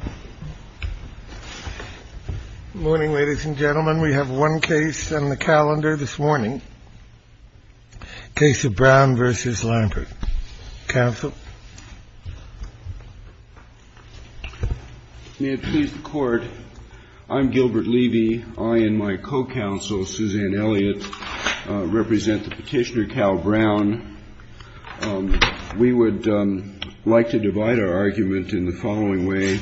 Good morning, ladies and gentlemen. We have one case on the calendar this morning. Case of Brown v. Lampert. Counsel? I'm Gilbert Levy. I and my co-counsel, Suzanne Elliott, represent the petitioner, Cal Brown. We would like to divide our argument in the following way.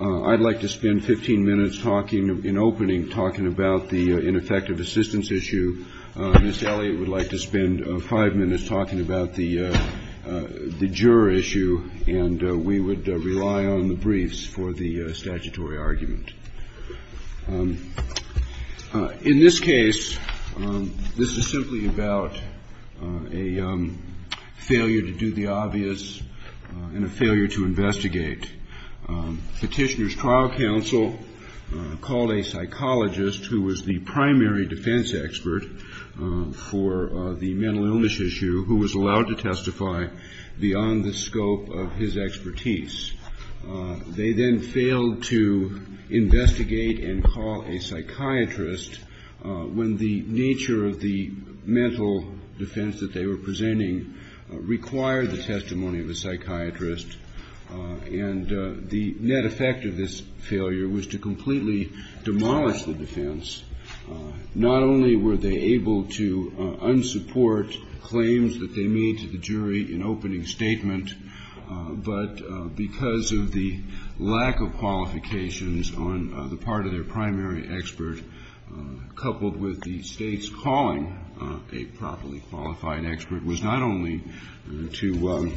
I'd like to spend 15 minutes talking, in opening, talking about the ineffective assistance issue. Ms. Elliott would like to spend five minutes talking about the juror issue, and we would rely on the briefs for the statutory argument. In this case, this is simply about a failure to do the obvious and a failure to investigate. Petitioner's trial counsel called a psychologist who was the primary defense expert for the mental illness issue, who was allowed to testify beyond the scope of his expertise. They then failed to investigate and call a psychiatrist when the nature of the mental defense that they were presenting required the testimony of a psychiatrist. And the net effect of this failure was to completely demolish the defense. Not only were they able to unsupport claims that they made to the jury in opening statement, but because of the lack of qualifications on the part of their primary expert, coupled with the state's calling of a properly qualified expert, was not only to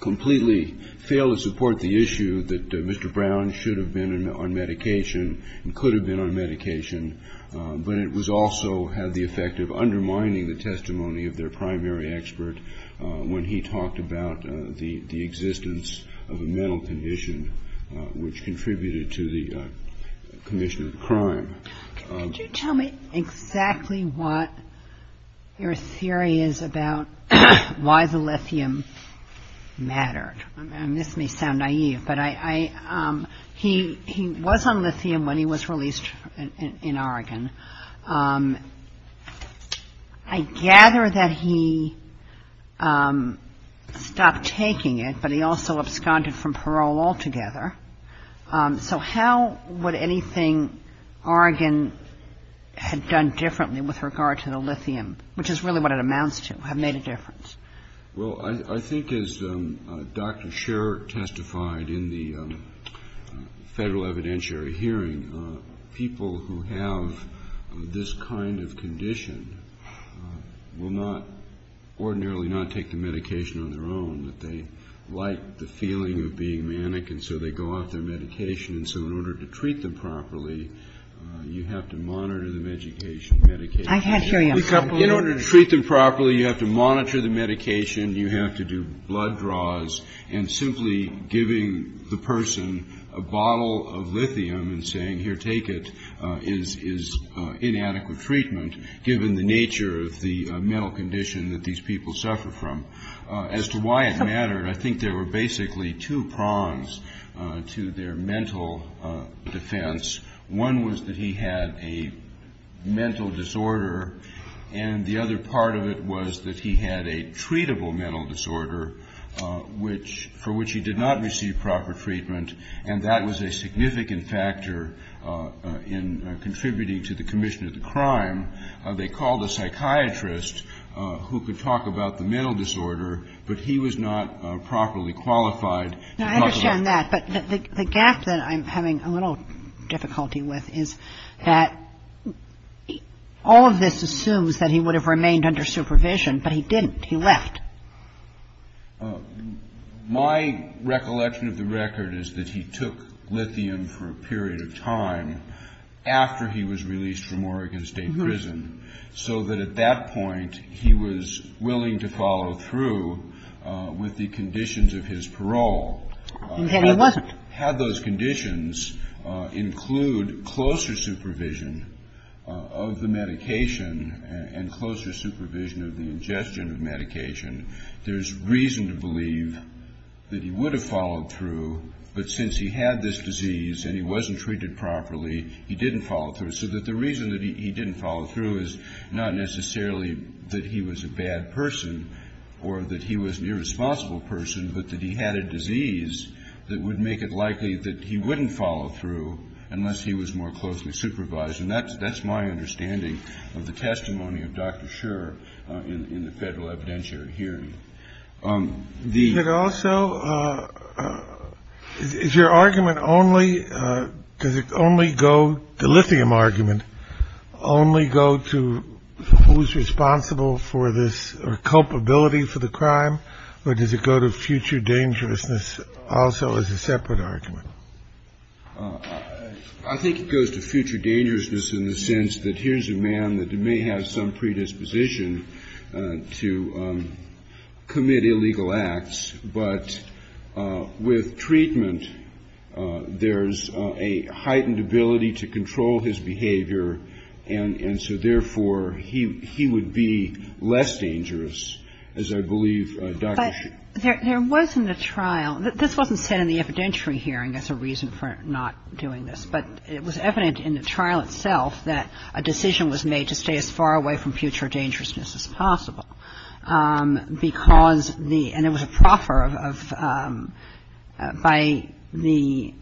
completely fail to support the issue that Mr. Brown should have been on medication and could have been on medication, but it also had the effect of undermining the testimony of their primary expert when he talked about the existence of a mental condition, which contributed to the condition of the crime. Could you tell me exactly what your theory is about why the lithium mattered? This may sound naive, but he was on lithium when he was released in Oregon. I gather that he stopped taking it, but he also absconded from parole altogether. So how would anything Oregon had done differently with regard to the lithium, which is really what it amounts to, have made a difference? Well, I think as Dr. Sher testified in the federal evidentiary hearing, people who have this kind of condition will not ordinarily not take the medication on their own. They like the feeling of being manic, and so they go off their medication. And so in order to treat them properly, you have to monitor the medication. I can't hear you. In order to treat them properly, you have to monitor the medication. You have to do blood draws. And simply giving the person a bottle of lithium and saying, here, take it, is inadequate treatment, given the nature of the mental condition that these people suffer from. As to why it mattered, I think there were basically two prongs to their mental defense. One was that he had a mental disorder, and the other part of it was that he had a treatable mental disorder for which he did not receive proper treatment, and that was a significant factor in contributing to the commission of the crime. They called a psychiatrist who could talk about the mental disorder, but he was not properly qualified. I understand that, but the gap that I'm having a little difficulty with is that all of this assumes that he would have remained under supervision, but he didn't. He left. My recollection of the record is that he took lithium for a period of time after he was released from Oregon State Prison, so that at that point he was willing to follow through with the conditions of his parole. He said he wasn't. Had those conditions include closer supervision of the medication and closer supervision of the ingestion of medication, there's reason to believe that he would have followed through, but since he had this disease and he wasn't treated properly, he didn't follow through. So the reason that he didn't follow through is not necessarily that he was a bad person or that he was an irresponsible person, but that he had a disease that would make it likely that he wouldn't follow through unless he was more closely supervised, and that's my understanding of the testimony of Dr. Scherer in the federal evidentiary hearing. The also is your argument only to only go to lithium argument, only go to who's responsible for this or culpability for the crime, or does it go to future dangerousness also as a separate argument? I think it goes to future dangerousness in the sense that here's a man that may have some predisposition to commit illegal acts, but with treatment there's a heightened ability to control his behavior, and so therefore he would be less dangerous, as I believe Dr. Scherer... There wasn't a trial, this wasn't said in the evidentiary hearing as a reason for not doing this, but it was evident in the trial itself that a decision was made to stay as far away from future dangerousness as possible, because the, and it was a proffer of, by the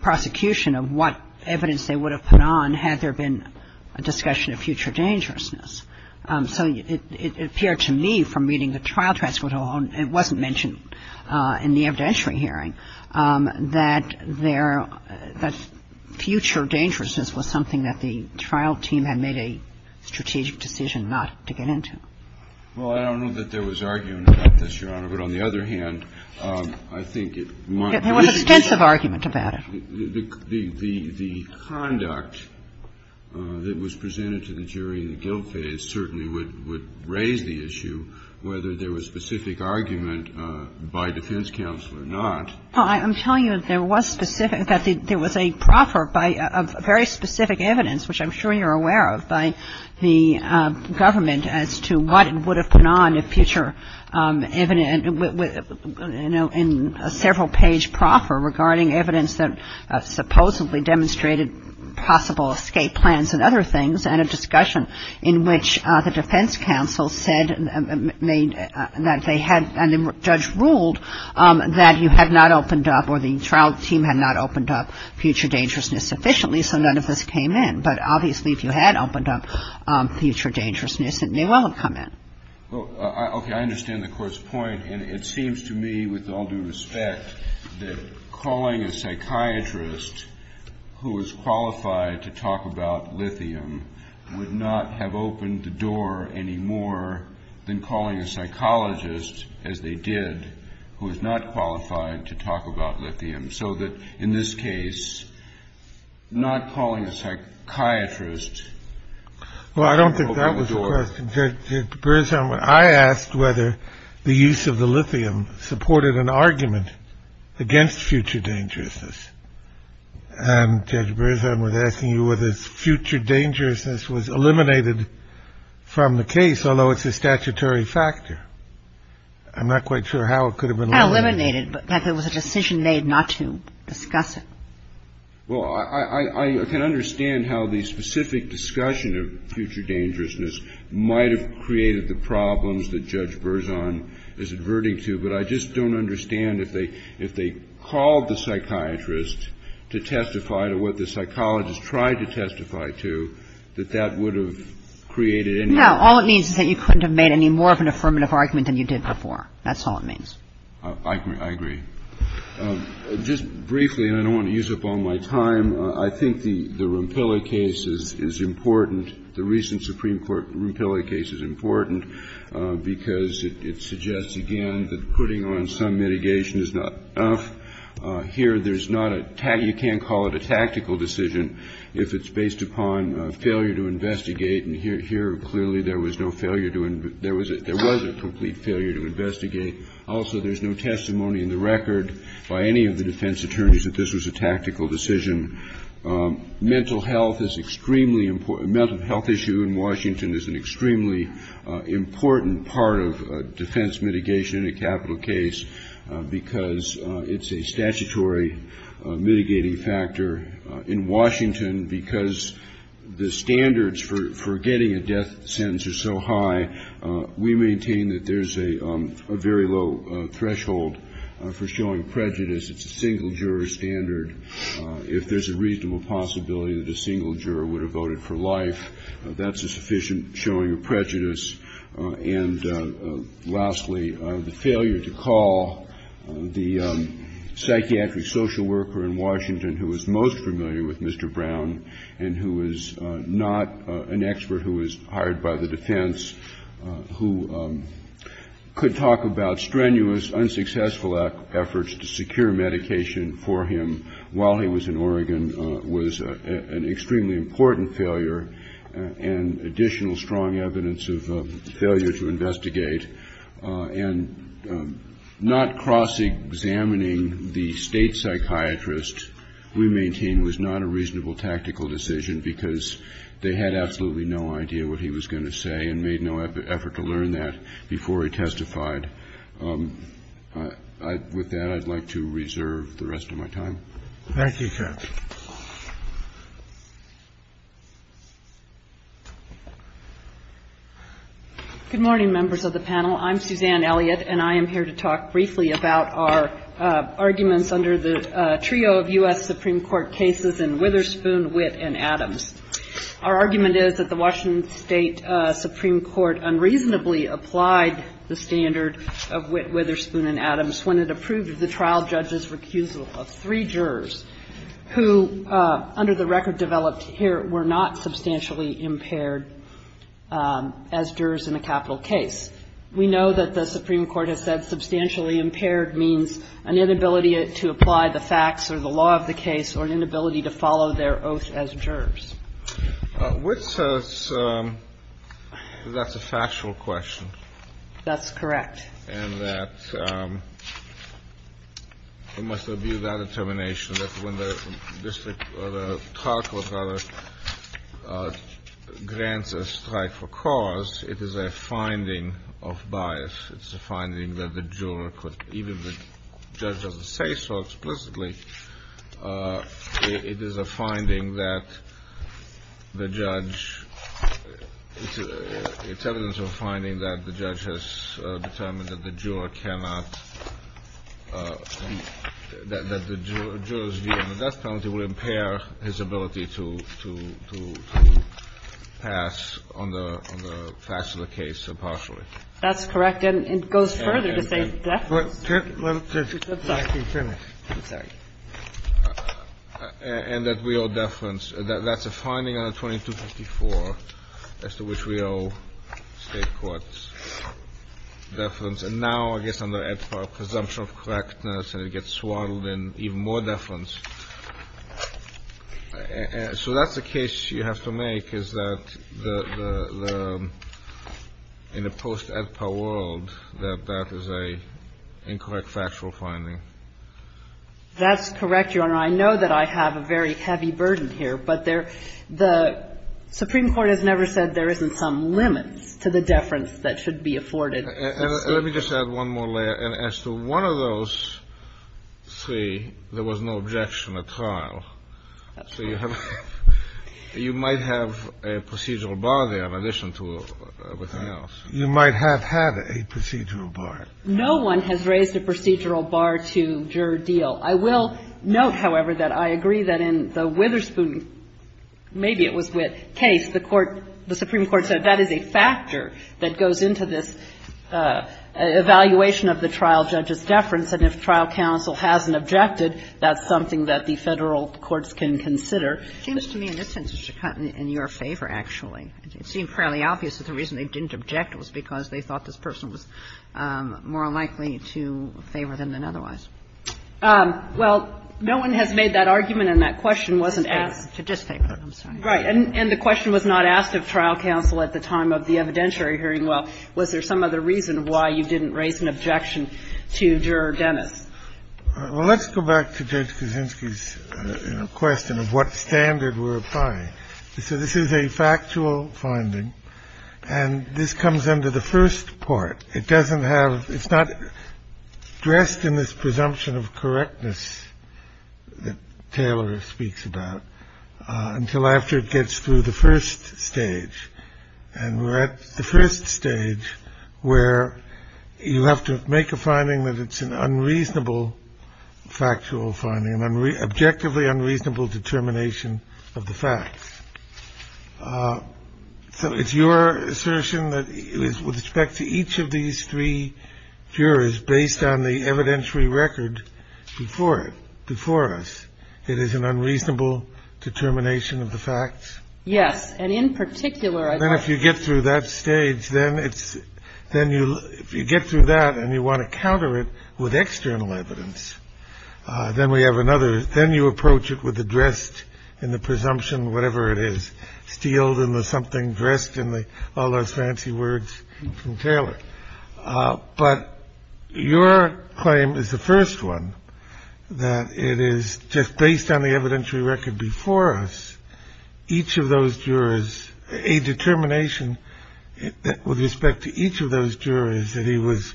prosecution of what evidence they would have put on had there been a discussion of future dangerousness. So it appeared to me from reading the trial transcript, it wasn't mentioned in the evidentiary hearing, that there, that future dangerousness was something that the trial team had made a strategic decision not to get into. Well, I don't know that there was argument about this, Your Honor, but on the other hand, I think it might... There was extensive argument about it. The conduct that was presented to the jury in the guilt phase certainly would raise the issue whether there was specific argument by defense counsel or not. Well, I'm telling you that there was specific, that there was a proffer of very specific evidence, which I'm sure you're aware of, by the government as to what it would have put on if future evidence, in a several-page proffer regarding evidence that supposedly demonstrated possible escape plans and other things and a discussion in which the defense counsel said that they had, and the judge ruled, that you had not opened up or the trial team had not opened up future dangerousness sufficiently, so none of this came in. But obviously, if you had opened up future dangerousness, it may well have come in. Okay, I understand the court's point, and it seems to me, with all due respect, that calling a psychiatrist who is qualified to talk about lithium would not have opened the door any more than calling a psychologist, as they did, who is not qualified to talk about lithium, so that, in this case, not calling a psychiatrist... Well, I don't think that was the question. I asked whether the use of the lithium supported an argument against future dangerousness, and Judge Berzheim was asking you whether future dangerousness was eliminated from the case, although it's a statutory factor. I'm not quite sure how it could have been... Not eliminated, but that there was a decision made not to discuss it. Well, I can understand how the specific discussion of future dangerousness might have created the problems that Judge Berzheim is adverting to, but I just don't understand if they called the psychiatrist to testify to what the psychologist tried to testify to, that that would have created any... No, all it means is that you couldn't have made any more of an affirmative argument than you did before. That's all it means. I agree. Just briefly, and I don't want to use up all my time, I think the Rumpella case is important. The recent Supreme Court Rumpella case is important because it suggests, again, that putting on some mitigation is not enough. Here, there's not a... You can't call it a tactical decision if it's based upon failure to investigate, and here, clearly, there was no failure to... There was a complete failure to investigate. Also, there's no testimony in the record by any of the defense attorneys that this was a tactical decision. Mental health is extremely important. Mental health issue in Washington is an extremely important part of defense mitigation in a capital case because it's a statutory mitigating factor. In Washington, because the standards for getting a death sentence are so high, we maintain that there's a very low threshold for showing prejudice. It's a single jury standard. If there's a reasonable possibility that a single juror would have voted for life, that's a sufficient showing of prejudice. And lastly, the failure to call the psychiatric social worker in Washington, who was most familiar with Mr. Brown and who was not an expert, who was hired by the defense, who could talk about strenuous, unsuccessful efforts to secure medication for him while he was in Oregon, was an extremely important failure and additional strong evidence of failure to investigate. And not cross-examining the state psychiatrist, we maintain, was not a reasonable tactical decision because they had absolutely no idea what he was going to say and made no effort to learn that before he testified. With that, I'd like to reserve the rest of my time. Thank you, sir. Good morning, members of the panel. I'm Suzanne Elliott, and I am here to talk briefly about our arguments under the trio of U.S. Supreme Court cases in Witherspoon, Witt, and Adams. Our argument is that the Washington State Supreme Court unreasonably applied the standard of Witt, Witherspoon, and Adams when it approved the trial judge's recusal of three jurors who, under the record developed here, were not substantially impaired as jurors in a capital case. We know that the Supreme Court has said substantially impaired means an inability to apply the facts or the law of the case or an inability to follow their oath as jurors. Witt says that's a factual question. That's correct. And that it must have been that determination that when the district or the trial court rather grants a strike for cause, it is a finding of bias. It's a finding that the juror could, even if the judge doesn't say so explicitly, it is a finding that the judge, it's evidence of a finding that the judge has determined that the juror cannot, that the juror's view of the death penalty will impair his ability to pass on the facts of the case impartially. That's correct. And it goes further to say the death penalty. And that we owe deference. That's a finding out of 2254 as to which we owe state courts deference. And now I guess under Ed Power, presumption of correctness, and it gets swaddled in even more deference. So that's the case you have to make, is that in a post-Ed Power world, that that is an incorrect factual finding. That's correct, Your Honor. I know that I have a very heavy burden here, but the Supreme Court has never said there isn't some limit to the deference that should be afforded. Let me just add one more layer. And as to one of those three, there was no objection at all. So you have, you might have a procedural bar there in addition to everything else. You might have had a procedural bar. No one has raised a procedural bar to juror deal. I will note, however, that I agree that in the Witherspoon, maybe it was Witt, case, the Supreme Court said that is a factor that goes into this evaluation of the trial judge's deference. And if trial counsel hasn't objected, that's something that the Federal courts can consider. It seems to me in this instance to cut in your favor, actually. It seemed fairly obvious that the reason they didn't object was because they thought this person was more likely to favor them than otherwise. Well, no one had made that argument, and that question wasn't asked. And the question was not asked of trial counsel at the time of the evidentiary hearing. Well, was there some other reason why you didn't raise an objection to juror Dennis? Well, let's go back to Judge Kuczynski's question of what standard we're applying. So this is a factual finding, and this comes under the first part. It's not dressed in this presumption of correctness that Taylor speaks about until after it gets through the first stage. And we're at the first stage where you have to make a finding that it's an unreasonable factual finding and objectively unreasonable determination of the facts. So it's your assertion that it is with respect to each of these three jurors based on the evidentiary record before it, before us. It is an unreasonable determination of the facts. Yes. And in particular, if you get through that stage, then it's then you get through that and you want to counter it with external evidence. Then we have another. Then you approach it with the dressed in the presumption, whatever it is, sealed in with something dressed in all those fancy words from Taylor. But your claim is the first one that it is just based on the evidentiary record before us. So it is with respect to each of those jurors, a determination with respect to each of those jurors that he was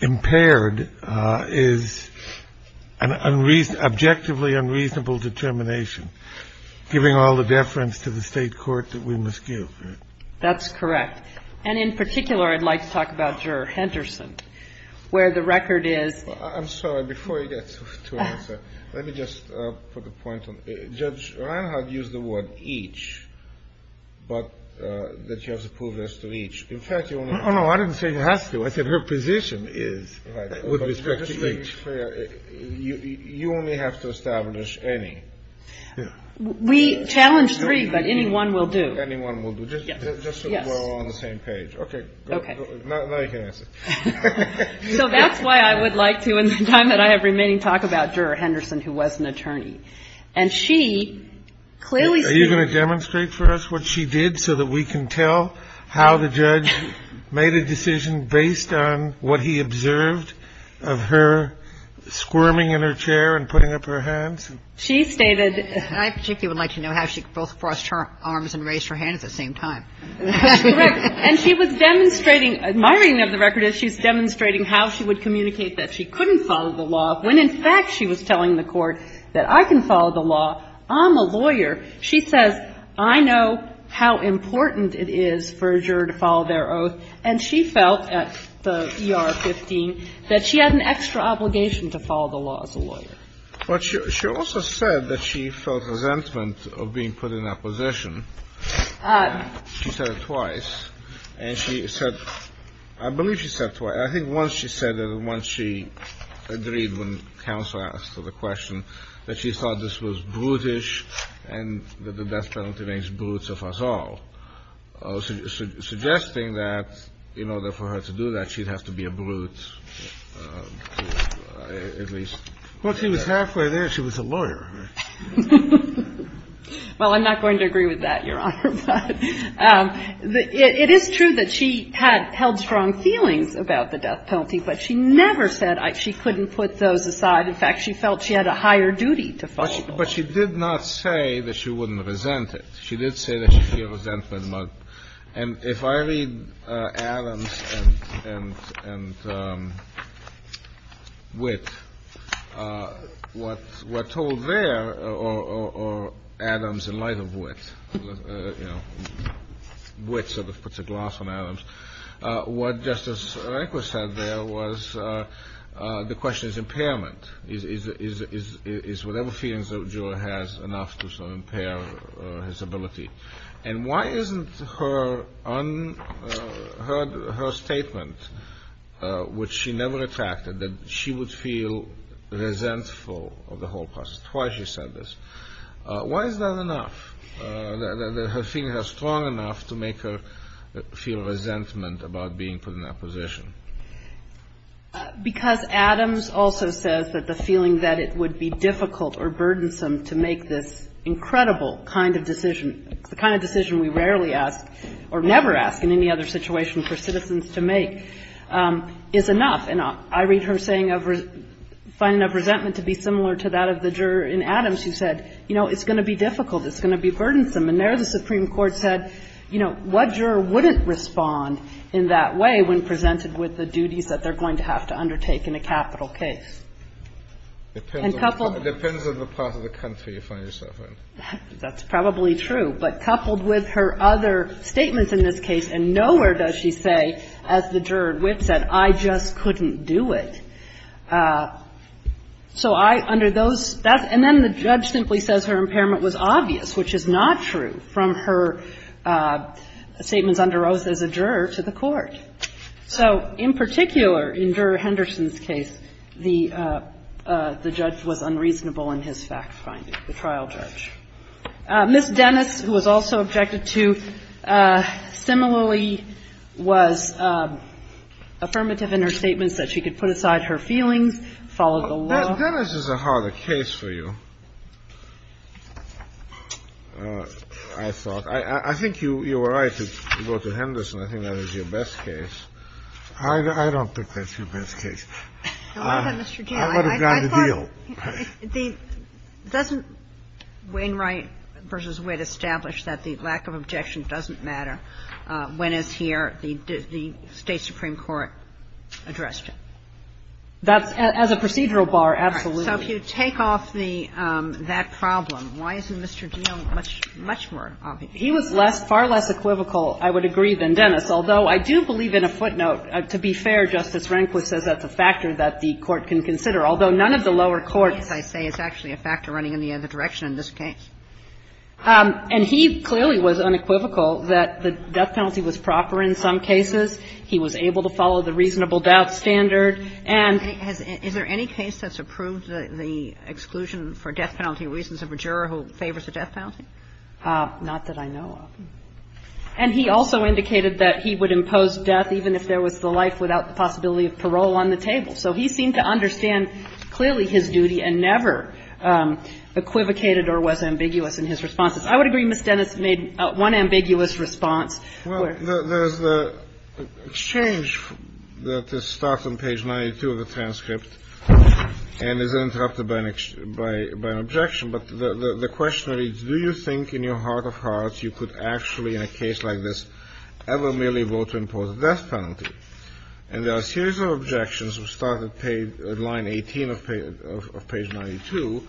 impaired is an objectively unreasonable determination, giving all the deference to the state court that we must give. That's correct. And in particular, I'd like to talk about Juror Henderson, where the record is. I'm sorry, before you get to answer, let me just put a point on how to use the word each, but that you have to prove this to each. In fact, you know, I didn't say you have to. I said her position is with respect to each. You only have to establish any. We challenge three, but anyone will do. Anyone will do. Just on the same page. OK. So that's why I would like to, in the time that I have remaining, talk about Juror Henderson, who was an attorney. And she clearly. Are you going to demonstrate for us what she did so that we can tell how the judge made a decision based on what he observed of her squirming in her chair and putting up her hands? She stated I particularly would like to know how she crossed her arms and raised her hand at the same time. And she was demonstrating. My reading of the record is she's demonstrating how she would communicate that she couldn't follow the law when in fact she was telling the court that I can follow the law. I'm a lawyer. She says I know how important it is for a juror to follow their oath. And she felt at the E.R. 15 that she had an extra obligation to follow the law as a lawyer. But she also said that she felt resentment of being put in that position. She said it twice. And she said, I believe she said twice. I think once she said it and once she agreed when counsel asked her the question, that she thought this was brutish and that the best president today is brute of us all, suggesting that in order for her to do that, she'd have to be a brute at least. Well, she was halfway there. She was a lawyer. Well, I'm not going to agree with that, Your Honor. It is true that she had held strong feelings about the death penalty, but she never said she couldn't put those aside. In fact, she felt she had a higher duty to follow. But she did not say that she wouldn't resent it. She did say that she would resent it. And if I read Adams and Witt, what we're told there, or Adams in light of Witt, you know, Witt sort of puts a gloss on Adams. What Justice Rehnquist said there was the question is impairment. Is whatever feelings a juror has enough to impair his ability? And why isn't her statement, which she never attacked, that she would feel resentful of the whole process, twice she said this, why is that enough? Her feelings are strong enough to make her feel resentment about being put in a position. Because Adams also says that the feeling that it would be difficult or burdensome to make this incredible kind of decision, the kind of decision we rarely ask or never ask in any other situation for citizens to make, is enough. And I read her saying, finding enough resentment to be similar to that of the juror in Adams who said, you know, it's going to be difficult. It's going to be burdensome. And there the Supreme Court said, you know, what juror wouldn't respond in that way when presented with the duties that they're going to have to undertake in a capital case? And coupled with her other statements in this case, and nowhere does she say, as the juror at Witt said, I just couldn't do it. So I, under those, and then the judge simply says her impairment was obvious, which is not true, from her statements under oath as a juror to the court. So, in particular, in Juror Henderson's case, the judge was unreasonable in his facts finding, the trial judge. Ms. Dennis, who was also affected too, similarly was affirmative in her statements that she could put aside her feelings, follow the law. Dennis is a harder case for you, I thought. I think you were right to go to Henderson. I think that was your best case. I don't think that's your best case. I want a grander deal. Doesn't Wainwright v. Witt establish that the lack of objection doesn't matter when it's here, the State Supreme Court addressed it? As a procedural bar, absolutely. So if you take off that problem, why isn't Mr. Geale much more obvious? He was far less equivocal, I would agree, than Dennis, although I do believe in a footnote. To be fair, Justice Rehnquist says that's a factor that the court can consider, although none of the lower courts, I'd say, is actually a factor running in the other direction in this case. And he clearly was unequivocal that the death penalty was proper in some cases. He was able to follow the reasonable death standard. Is there any case that's approved the exclusion for death penalty reasons of a juror who favors the death penalty? Not that I know of. And he also indicated that he would impose death even if there was the life without the possibility of parole on the table. So he seemed to understand clearly his duty and never equivocated or was ambiguous in his responses. I would agree Ms. Dennis made one ambiguous response. There's an exchange that starts on page 92 of the transcript and is interrupted by an objection. But the question is, do you think in your heart of hearts you could actually, in a case like this, ever merely vote to impose a death penalty? And there are a series of objections that start at line 18 of page 92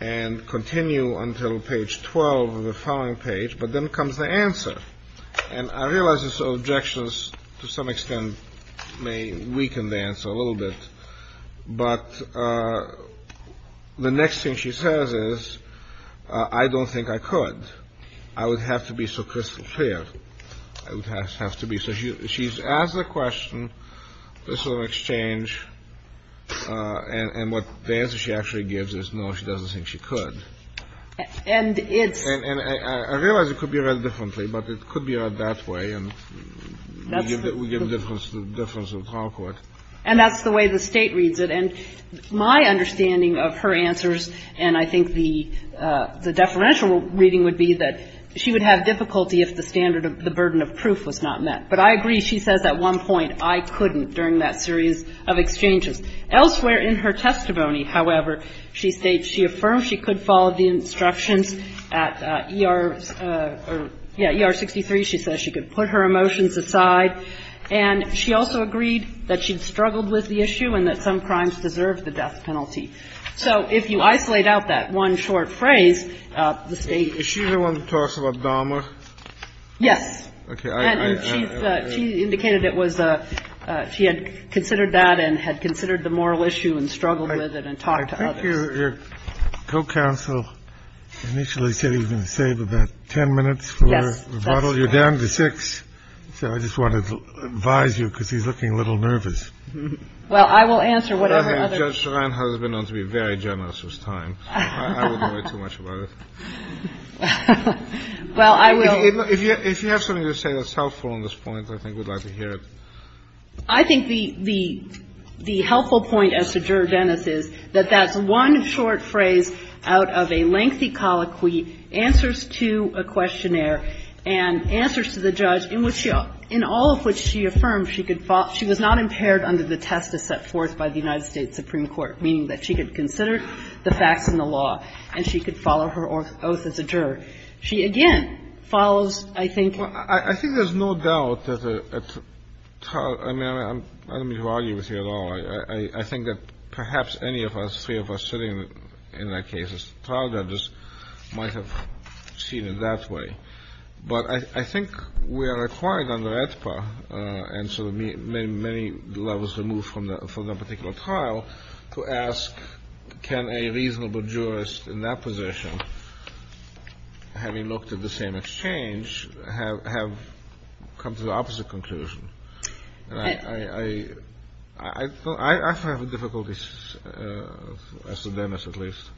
and continue until page 12 of the following page. But then comes the answer. And I realize these objections, to some extent, may weaken the answer a little bit. But the next thing she says is, I don't think I could. I would have to be so crystal clear. I would have to be. So she's asked the question. There's sort of an exchange. And what the answer she actually gives is no, she doesn't think she could. And I realize it could be read differently, but it could be read that way. And we get a difference in the talk with. And that's the way the state reads it. And my understanding of her answers, and I think the deferential reading would be that she would have difficulty if the standard of the burden of proof was not met. But I agree. She says at one point, I couldn't, during that series of exchanges. Elsewhere in her testimony, however, she states she affirms she could follow the instructions at ER 63. She says she could put her emotions aside. And she also agreed that she'd struggled with the issue and that some crimes deserve the death penalty. So if you isolate out that one short phrase, the state is usually one to talk about Obama. Yes. She indicated it was. She had considered that and had considered the moral issue and struggled with it and talked to your co-counsel. Initially, he said he was going to save about 10 minutes for a rebuttal. You're down to six. So I just want to advise you because you're looking a little nervous. Well, I will answer whatever. I've been known to be very generous this time. Well, I will. If you have something to say that's helpful on this point, I think we'd like to hear it. The helpful point as to Juror Dennis is that that one short phrase out of a lengthy colloquy answers to a questionnaire and answers to the judge, in all of which she affirmed she was not impaired under the test that's set forth by the United States Supreme Court, meaning that she had considered the facts and the law and she could follow her oath as a juror. She, again, follows, I think — I don't mean to argue with you at all. I think that perhaps any of us, three of us sitting in that case as trial judges, might have seen it that way. But I think we are required under AETPA and so many levels removed from that particular trial to ask, can a reasonable jurist in that position, having looked at the same exchange, have come to the opposite conclusion? I find the difficulties, as to Dennis at least.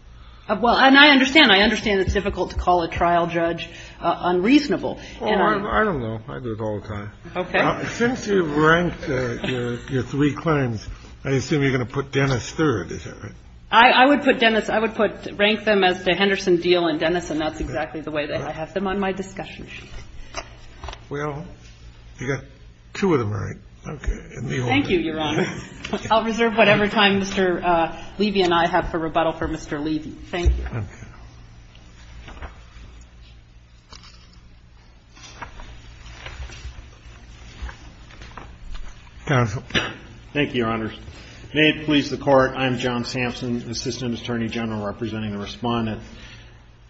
Well, and I understand. I understand it's difficult to call a trial judge unreasonable. Oh, I don't know. I do it all the time. Okay. Since you've ranked your three clients, I assume you're going to put Dennis third, is that right? I would put Dennis — I would rank them as the Henderson deal and Dennis, and that's exactly the way that I have them on my discussion sheet. Well, you got two of them right. Okay. Thank you, Your Honor. I'll reserve whatever time Mr. Levy and I have for rebuttal for Mr. Levy. Thank you. Thank you. Thank you, Your Honors. May it please the Court, I'm John Sampson, assistant attorney general representing the respondent.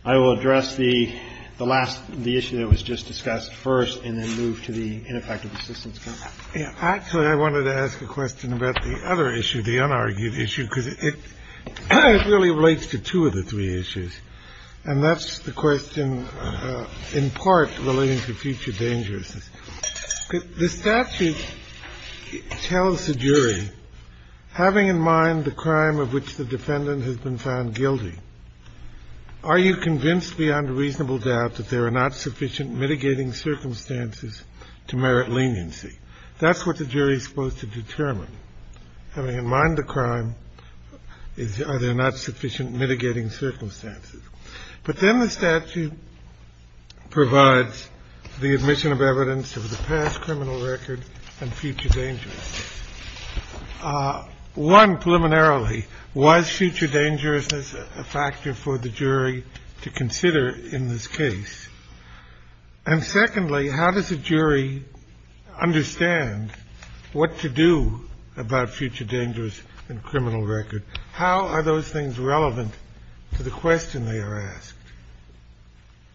I will address the last — the issue that was just discussed first and then move to the ineffective assistance. Actually, I wanted to ask a question about the other issue, the unargued issue, because it really relates to two of the three issues. And that's the question in part relating to future danger. The statute tells the jury, having in mind the crime of which the defendant has been found guilty, are you convinced beyond reasonable doubt that there are not sufficient mitigating circumstances to merit leniency? That's what the jury is supposed to determine. Having in mind the crime, are there not sufficient mitigating circumstances? But then the statute provides the admission of evidence of the past criminal record and future danger. One, preliminarily, was future dangerousness a factor for the jury to consider in this case? And secondly, how does the jury understand what to do about future dangerous and criminal record? How are those things relevant to the question they are asked?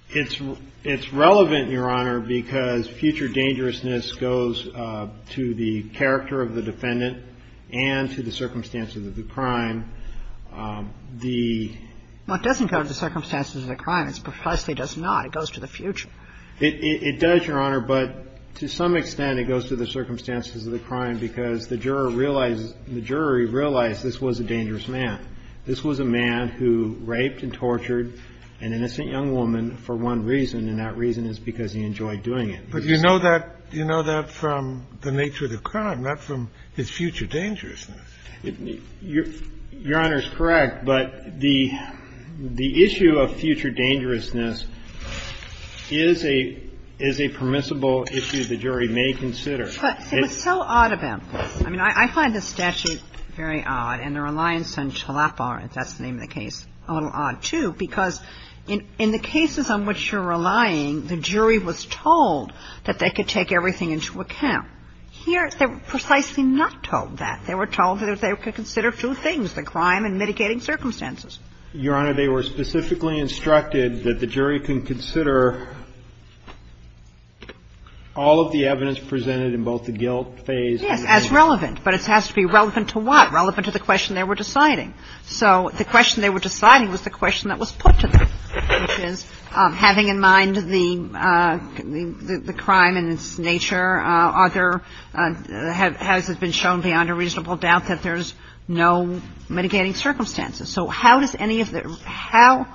It's relevant, Your Honor, because future dangerousness goes to the character of the defendant and to the circumstances of the crime. The — Well, it doesn't go to the circumstances of the crime. It precisely does not. It goes to the future. It does, Your Honor. But to some extent, it goes to the circumstances of the crime because the juror realizes — the jury realized this was a dangerous man. This was a man who raped and tortured an innocent young woman for one reason, and that reason is because he enjoyed doing it. But you know that — you know that from the nature of the crime, not from the future dangerousness. Your Honor is correct, but the issue of future dangerousness is a permissible issue the jury may consider. But it's so odd about this. I mean, I find this statute very odd, and the reliance on TLAFAR, as that's the name of the case, a little odd, too, because in the cases on which you're relying, the jury was told that they could take everything into account. Here, they were precisely not told that. They were told that they could consider two things, the crime and mitigating circumstances. Your Honor, they were specifically instructed that the jury can consider all of the evidence presented in both the guilt phase — Yes, as relevant, but it has to be relevant to what? Relevant to the question they were deciding. So the question they were deciding was the question that was put to them, having in mind the crime and its nature. Are there — has it been shown beyond a reasonable doubt that there's no mitigating circumstances? So how does any of the — how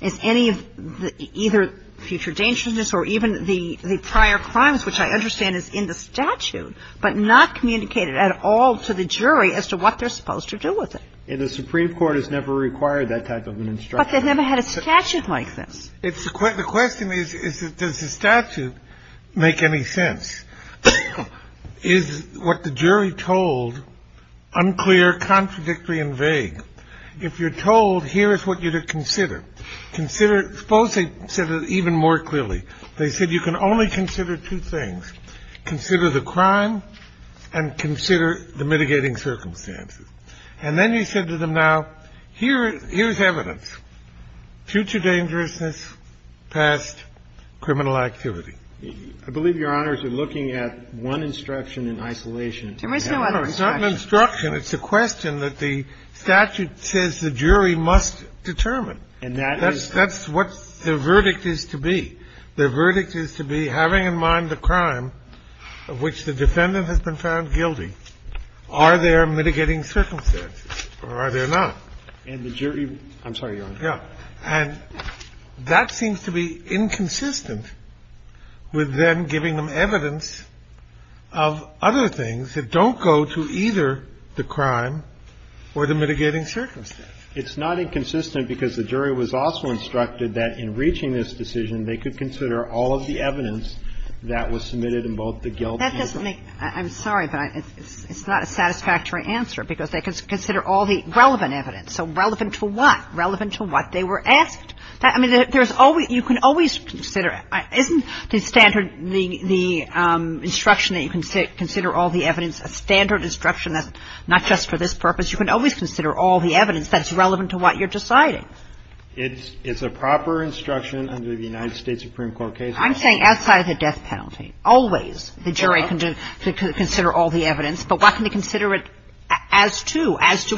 is any of the either future dangerousness or even the prior crimes, which I understand is in the statute, but not communicated at all to the jury as to what they're supposed to do with it? And the Supreme Court has never required that type of an instruction. But they've never had a statute like this. The question is, does the statute make any sense? Is what the jury told unclear, contradictory, and vague? If you're told, here is what you should consider, consider — suppose they said it even more clearly. They said you can only consider two things, consider the crime and consider the mitigating circumstances. And then you said to them, now, here is evidence, future dangerousness, past criminal activity. I believe Your Honors are looking at one instruction in isolation. No, it's not an instruction. It's a question that the statute says the jury must determine. And that is — That's what the verdict is to be. The verdict is to be having in mind the crime of which the defendant has been found guilty. Are there mitigating circumstances, or are there not? And the jury — I'm sorry, Your Honor. Yeah. And that seems to be inconsistent with them giving them evidence of other things that don't go to either the crime or the mitigating circumstances. It's not inconsistent because the jury was also instructed that in reaching this decision they could consider all of the evidence that was submitted in both the guilt and — That doesn't make — I'm sorry, but it's not a satisfactory answer because they can consider all the relevant evidence. So relevant to what? Relevant to what? They were asked. I mean, there's always — you can always consider — isn't the standard — the instruction that you can consider all the evidence a standard instruction? That's not just for this purpose. You can always consider all the evidence that's relevant to what you're deciding. It's a proper instruction under the United States Supreme Court case law. I'm saying outside of the death penalty. Always the jury can consider all the evidence. But what can we consider it as to? As to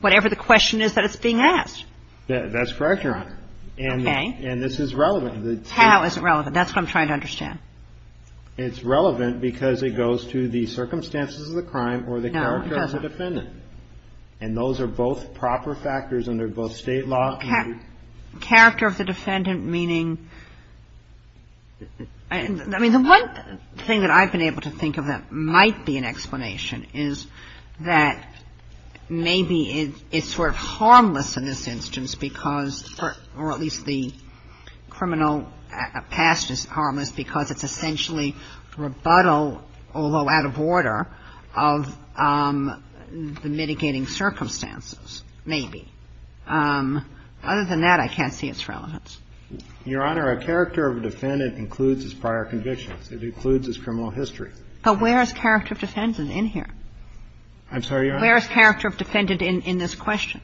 whatever the question is that it's being asked? Yeah, that's correct, Your Honor. Okay. And this is relevant. How is it relevant? That's what I'm trying to understand. It's relevant because it goes to the circumstances of the crime or the character of the defendant. And those are both proper factors under both state law and — Character of the defendant meaning — I mean, the one thing that I've been able to think of that might be an explanation is that maybe it's sort of harmless in this instance because — or at least the criminal past is harmless because it's essentially rebuttal, although out of order, of the mitigating circumstances, maybe. Other than that, I can't see its relevance. Your Honor, a character of a defendant includes its prior conviction. It includes its criminal history. But where is character of defendant in here? I'm sorry, Your Honor? Where is character of defendant in this question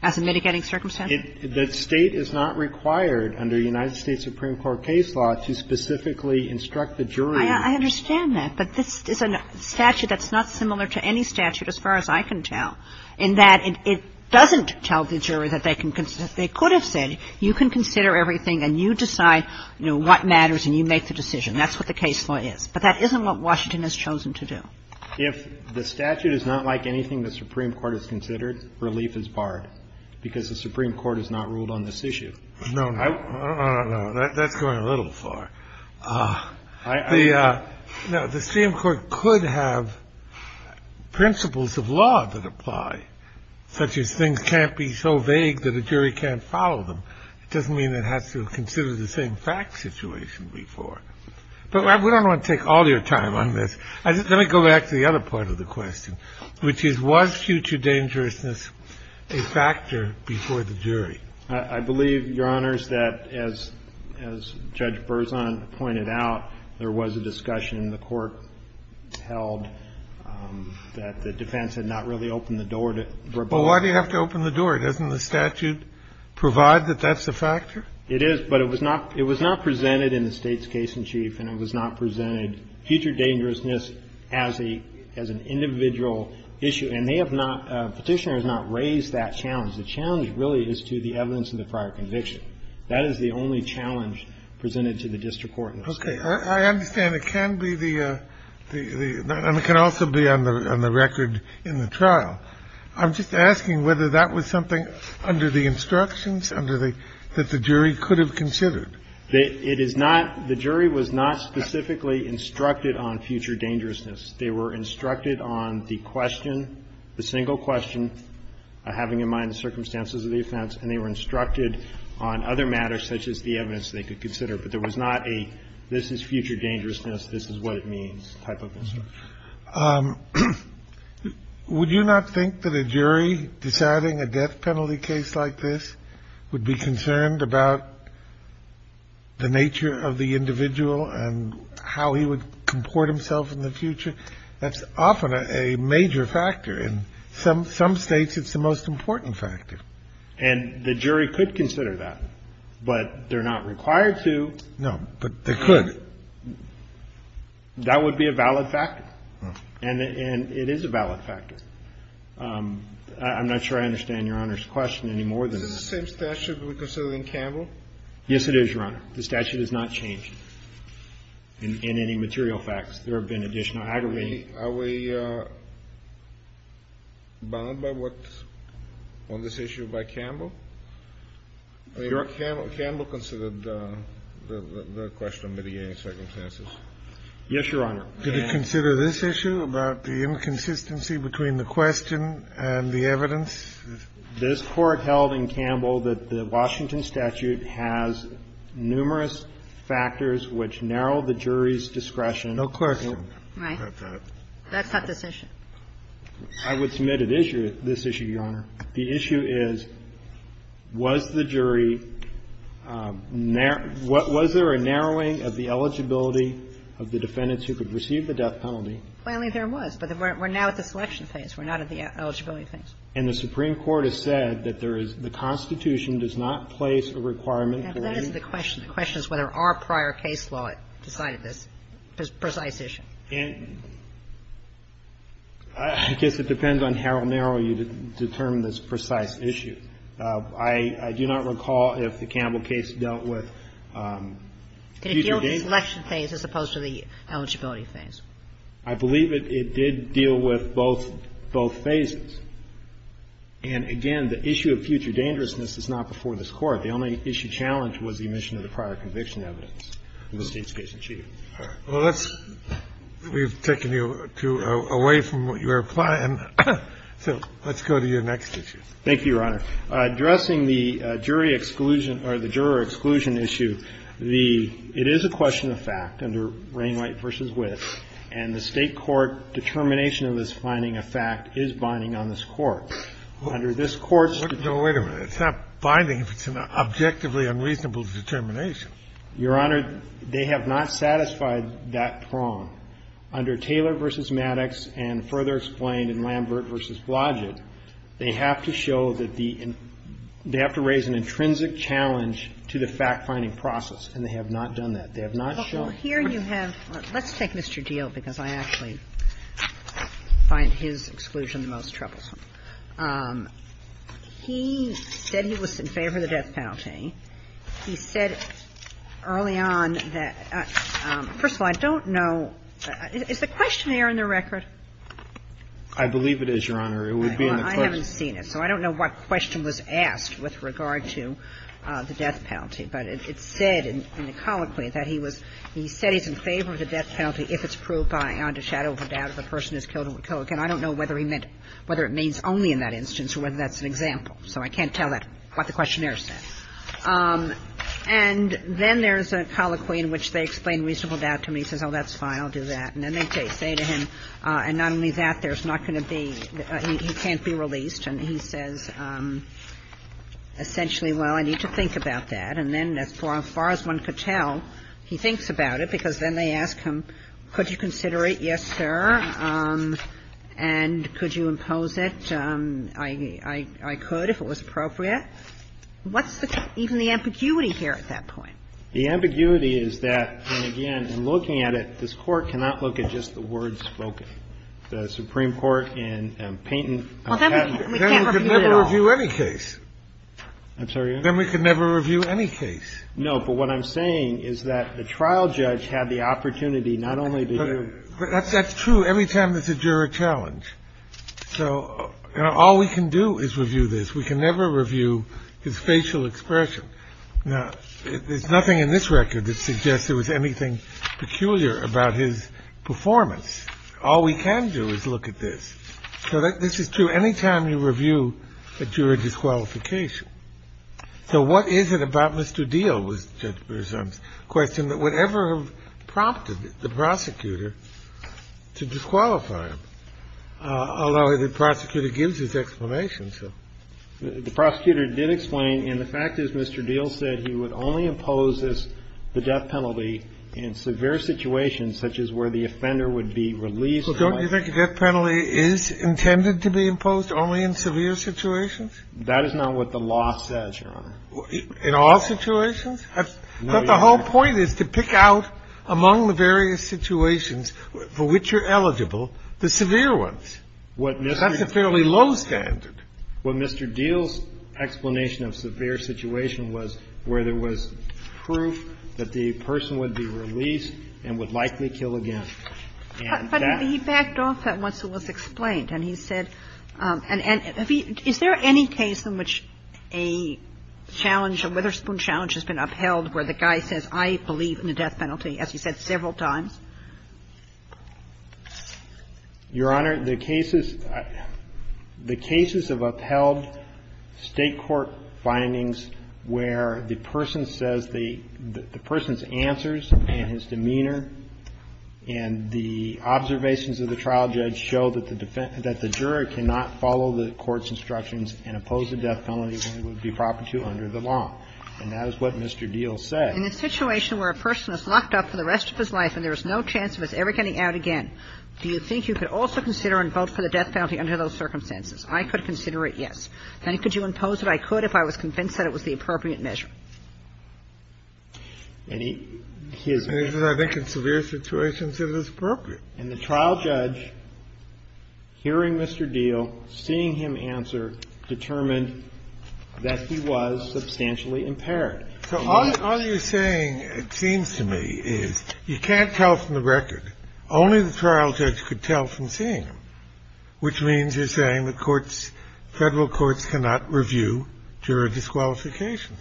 as a mitigating circumstance? The state is not required under United States Supreme Court case law to specifically instruct the jury. I understand that. But this is a statute that's not similar to any statute as far as I can tell in that it doesn't tell the jury that they can — that they could have said, you can consider everything and you decide, you know, what matters and you make the decision. That's what the case law is. But that isn't what Washington has chosen to do. If the statute is not like anything the Supreme Court has considered, relief is barred because the Supreme Court has not ruled on this issue. No, no, no, no, no. That's going a little far. The — no, the Supreme Court could have principles of law that apply, such as things can't be so vague that a jury can't follow them. It doesn't mean it has to consider the same fact situation before. But I don't want to take all your time on this. Let me go back to the other part of the question, which is, was future dangerousness a factor before the jury? I believe, Your Honors, that as Judge Berzon pointed out, there was a discussion in the court held that the defense had not really opened the door to — Well, why do you have to open the door? Doesn't the statute provide that that's a factor? It is, but it was not presented in the state's case in chief, and it was not presented future dangerousness as an individual issue. And they have not — petitioners have not raised that challenge. The challenge really is to the evidence of the prior conviction. That is the only challenge presented to the district court. Okay. I understand it can be the — and it can also be on the record in the trial. I'm just asking whether that was something under the instructions, under the — that the jury could have considered. It is not — the jury was not specifically instructed on future dangerousness. They were instructed on the question, the single question, having in mind the circumstances of the offense, and they were instructed on other matters such as the evidence they could consider. But there was not a, this is future dangerousness, this is what it means type of thing. Would you not think that a jury deciding a death penalty case like this would be concerned about the nature of the individual and how he would comport himself in the future? That's often a major factor. In some states, it's the most important factor. And the jury could consider that, but they're not required to. No, but they could. That would be a valid factor, and it is a valid factor. I'm not sure I understand Your Honor's question any more than that. Is it the same statute we consider in Campbell? Yes, it is, Your Honor. The statute has not changed in any material facts. There have been additional aggravations. Are we bound by what's on this issue by Campbell? Campbell considered the question of mitigating circumstances. Yes, Your Honor. Did it consider this issue about the inconsistency between the question and the evidence? This Court held in Campbell that the Washington statute has numerous factors which narrow the jury's discretion. No question. Right. That's not this issue. I would submit this issue, Your Honor. The issue is, was the jury ñ was there a narrowing of the eligibility of the defendants who could receive the death penalty? Finally, there was. But we're now at the selection phase. We're not at the eligibility phase. And the Supreme Court has said that there is ñ the Constitution does not place a requirement. And that is the question. The question is whether our prior case law decided this precise issue. And I guess it depends on how narrow you determine this precise issue. I do not recall if the Campbell case dealt with future dangers. It dealt with the selection phase as opposed to the eligibility phase. I believe it did deal with both phases. And, again, the issue of future dangerousness is not before this Court. The only issue challenged was the omission of the prior conviction evidence. All right. Well, let's ñ we've taken you away from what you were applying. So let's go to your next issue. Thank you, Your Honor. Addressing the jury exclusion ñ or the juror exclusion issue, the ñ it is a question of fact under Rainwright v. Witt, and the state court determination of this finding of fact is binding on this Court. Under this Court's ñ No, wait a minute. It's not binding. It's an objectively unreasonable determination. Your Honor, they have not satisfied that prong. Under Taylor v. Maddox and further explained in Lambert v. Blodgett, they have to show that the ñ they have to raise an intrinsic challenge to the fact-finding process. And they have not done that. They have not shown ñ Well, here you have ñ let's take Mr. Deal because I actually find his exclusion the most troublesome. He said he was in favor of the death penalty. He said early on that ñ first of all, I don't know ñ is the questionnaire in the record? I believe it is, Your Honor. It would be in the code. I haven't seen it. So I don't know what question was asked with regard to the death penalty. But it's said in the colloquy that he was ñ he said he's in favor of the death penalty if it's proved by under shadow of a doubt if a person is killed or killed again. I don't know whether he meant ñ whether it means only in that instance or whether that's an example. So I can't tell you what the questionnaire said. And then there's a colloquy in which they explain reasonable doubt to him. He says, oh, that's fine. I'll do that. And then they say to him, and not only that, there's not going to be ñ he can't be released. And he says essentially, well, I need to think about that. And then as far as one could tell, he thinks about it because then they ask him, could you consider it? Yes, sir. And could you impose it? I could if it was appropriate. What's even the ambiguity here at that point? The ambiguity is that, and again, in looking at it, this Court cannot look at just the words spoken. The Supreme Court in Peyton ñ Well, then we can't review it at all. Then we can never review any case. I'm sorry? Then we can never review any case. No, but what I'm saying is that the trial judge had the opportunity not only to do ñ But that's true every time that the juror challenged. So all we can do is review this. We can never review his facial expression. Now, there's nothing in this record that suggests there was anything peculiar about his performance. All we can do is look at this. So this is true any time you review a juror's disqualification. So what is it about Mr. Deal, was the presumptive question, that would ever have prompted the prosecutor to disqualify him? Although the prosecutor gives his explanation. The prosecutor did explain, and the fact is Mr. Deal said he would only impose the death penalty in severe situations, such as where the offender would be released. Well, don't you think a death penalty is intended to be imposed only in severe situations? That is not what the law says, Your Honor. In all situations? No, Your Honor. But the whole point is to pick out among the various situations for which you're eligible the severe ones. That's a fairly low standard. Well, Mr. Deal's explanation of severe situation was where there was proof that the person would be released and would likely kill again. But he backed off that once it was explained, and he said, and is there any case in which a challenge, a Witherspoon challenge has been upheld where the guy says, I believe in the death penalty, as you said, several times? Your Honor, the cases have upheld state court findings where the person says the person's answers and his demeanor and the observations of the trial judge show that the juror cannot follow the court's instructions and oppose the death penalty and it would be proper to under the law. And that is what Mr. Deal said. In a situation where a person is locked up for the rest of his life and there is no chance of his ever getting out again, do you think you could also consider and vote for the death penalty under those circumstances? I could consider it yes. And could you impose that I could if I was convinced that it was the appropriate measure? And he is right. I think in severe situations it is appropriate. And the trial judge, hearing Mr. Deal, seeing him answer, determined that he was substantially impaired. So all you're saying, it seems to me, is you can't tell from the record. Only the trial judge could tell from seeing him, which means you're saying the courts, federal courts cannot review juror disqualifications.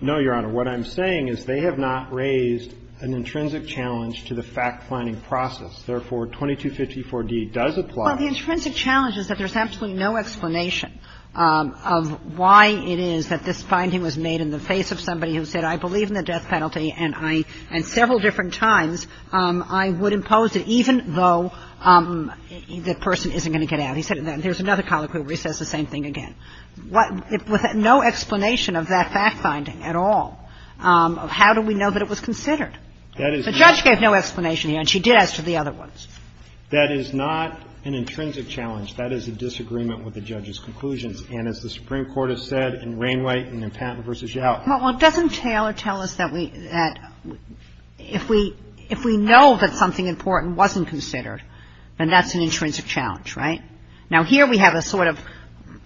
No, Your Honor. What I'm saying is they have not raised an intrinsic challenge to the fact-finding process. Therefore, 2254-D does apply. Well, the intrinsic challenge is that there's absolutely no explanation of why it is that this finding was made in the face of somebody who said I believe in the death penalty and several different times I would impose it even though the person isn't going to get out. He said it then. There's another colloquy where he says the same thing again. There's no explanation of that fact-finding at all. How do we know that it was considered? The judge gave no explanation. He actually did answer the other ones. That is not an intrinsic challenge. That is a disagreement with the judge's conclusions. And as the Supreme Court has said in Ringwraith and in Patton v. Jowett. Well, it doesn't tell us that if we know that something important wasn't considered, then that's an intrinsic challenge, right? Now, here we have a sort of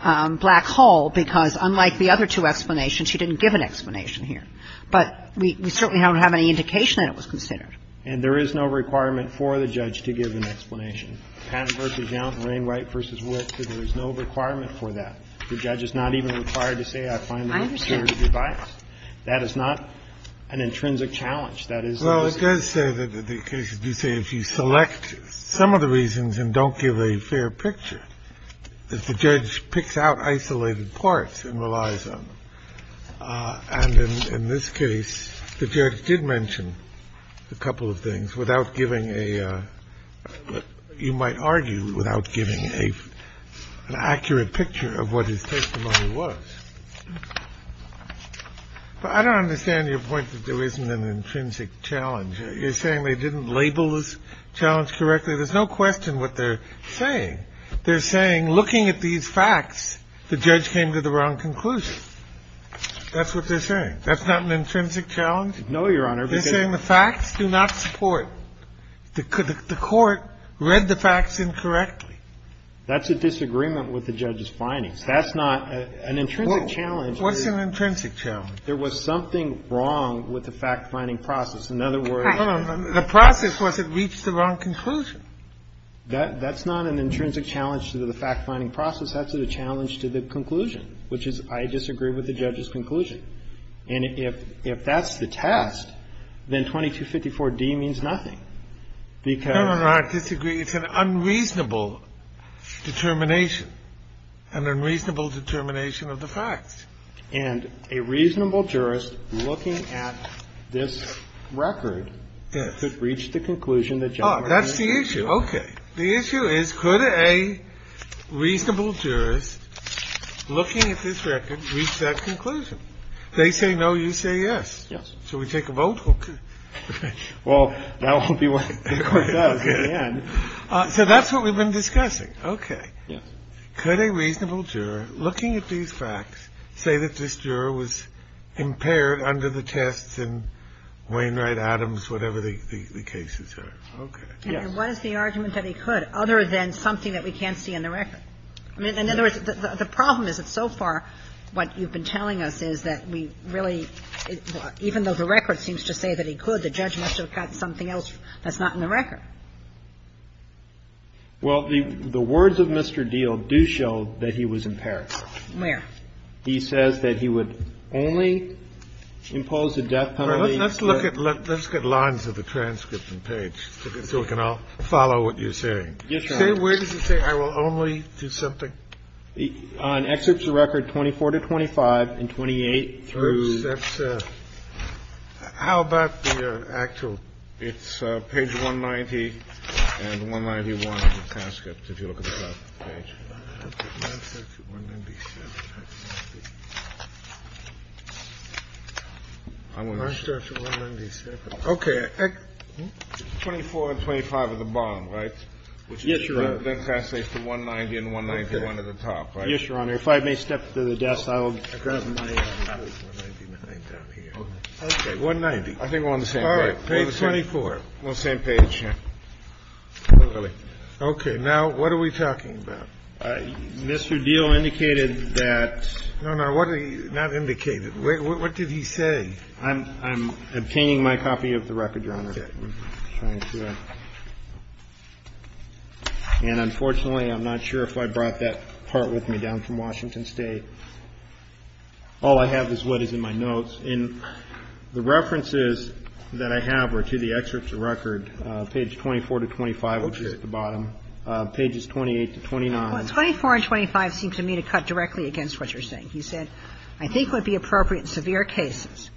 black hole because unlike the other two explanations, she didn't give an explanation here. But we certainly don't have any indication that it was considered. And there is no requirement for the judge to give an explanation. Patton v. Jowett, Ringwraith v. Witt said there is no requirement for that. The judge is not even required to say I find the evidence to be biased. That is not an intrinsic challenge. Well, it does say that if you select some of the reasons and don't give a fair picture, the judge picks out isolated parts and relies on them. And in this case, the judge did mention a couple of things without giving a. You might argue without giving an accurate picture of what his testimony was. I don't understand your point that there isn't an intrinsic challenge. You're saying they didn't label this challenge directly. There's no question what they're saying. They're saying looking at these facts, the judge came to the wrong conclusion. That's what they're saying. That's not an intrinsic challenge. No, Your Honor. They're saying the facts do not support. The court read the facts incorrectly. That's a disagreement with the judge's findings. That's not an intrinsic challenge. What's an intrinsic challenge? There was something wrong with the fact-finding process. In other words. The process was it reached the wrong conclusion. That's not an intrinsic challenge to the fact-finding process. That's a challenge to the conclusion, which is I disagree with the judge's conclusion. And if that's the test, then 2254D means nothing. Your Honor, I disagree. It's an unreasonable determination. An unreasonable determination of the facts. And a reasonable jurist looking at this record could reach the conclusion that judge. That's the issue. Okay. The issue is could a reasonable jurist looking at this record reach that conclusion? You say yes. Yes. Should we take a vote? Okay. Well, that won't be quite enough. So that's what we've been discussing. Okay. Could a reasonable juror looking at these facts say that this juror was impaired under the tests and Wainwright-Adams, whatever the cases are? Okay. What is the argument that he could other than something that we can't see in the record? I mean, in other words, the problem is that so far what you've been telling us is that we really, even though the record seems to say that he could, the judge must have gotten something else that's not in the record. Well, the words of Mr. Deal do show that he was impaired. Where? He says that he would only impose a death penalty. Let's look at lines of the transcript and page so we can all follow what you're saying. Where did you say I will only do something? On excerpts of record 24 to 25 and 28. How about the actual? It's page 190 and 191 of the transcript if you look at the page. Okay. 24 and 25 at the bottom, right? Yes, Your Honor. Then passage from 190 and 191 at the top, right? Yes, Your Honor. If I may step to the desk, I will grab my... Okay, 190. I think we're on the same page. All right. Page 24. We're on the same page here. Okay. Now, what are we talking about? Mr. Deal indicated that... No, no. What are you... Not indicated. What did he say? I'm obtaining my copy of the record, Your Honor. Okay. I'm trying to see it. And unfortunately, I'm not sure if I brought that part with me down from Washington State. All I have is what is in my notes. And the references that I have are to the excerpts of record, page 24 to 25, which are at the bottom, pages 28 to 29. Well, 24 and 25 seems to me to cut directly against what you're saying. He said, I think it would be appropriate in severe cases.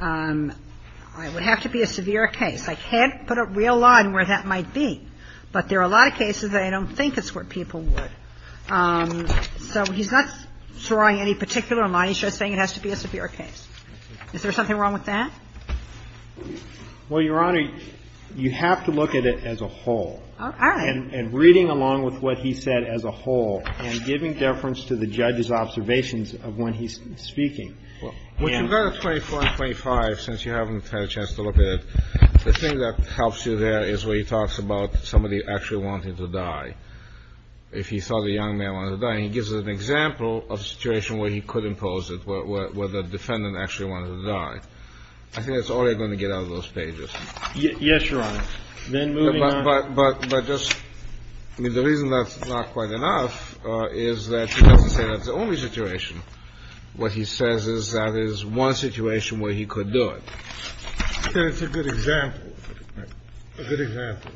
It would have to be a severe case. I can't put a real line where that might be. But there are a lot of cases that I don't think it's where people would. So he's not drawing any particular line. He's just saying it has to be a severe case. Is there something wrong with that? Well, Your Honor, you have to look at it as a whole. All right. And reading along with what he said as a whole and giving deference to the judge's observations of when he's speaking. With regard to 24 and 25, since you haven't had a chance to look at it, the thing that helps you there is where he talks about somebody actually wanting to die, if he thought the young man wanted to die. And he gives an example of a situation where he could impose it, where the defendant actually wanted to die. I think that's all you're going to get out of those pages. Yes, Your Honor. But just the reason that's not quite enough is that the only situation what he says is that is one situation where he could do it. It's a good example. A good example.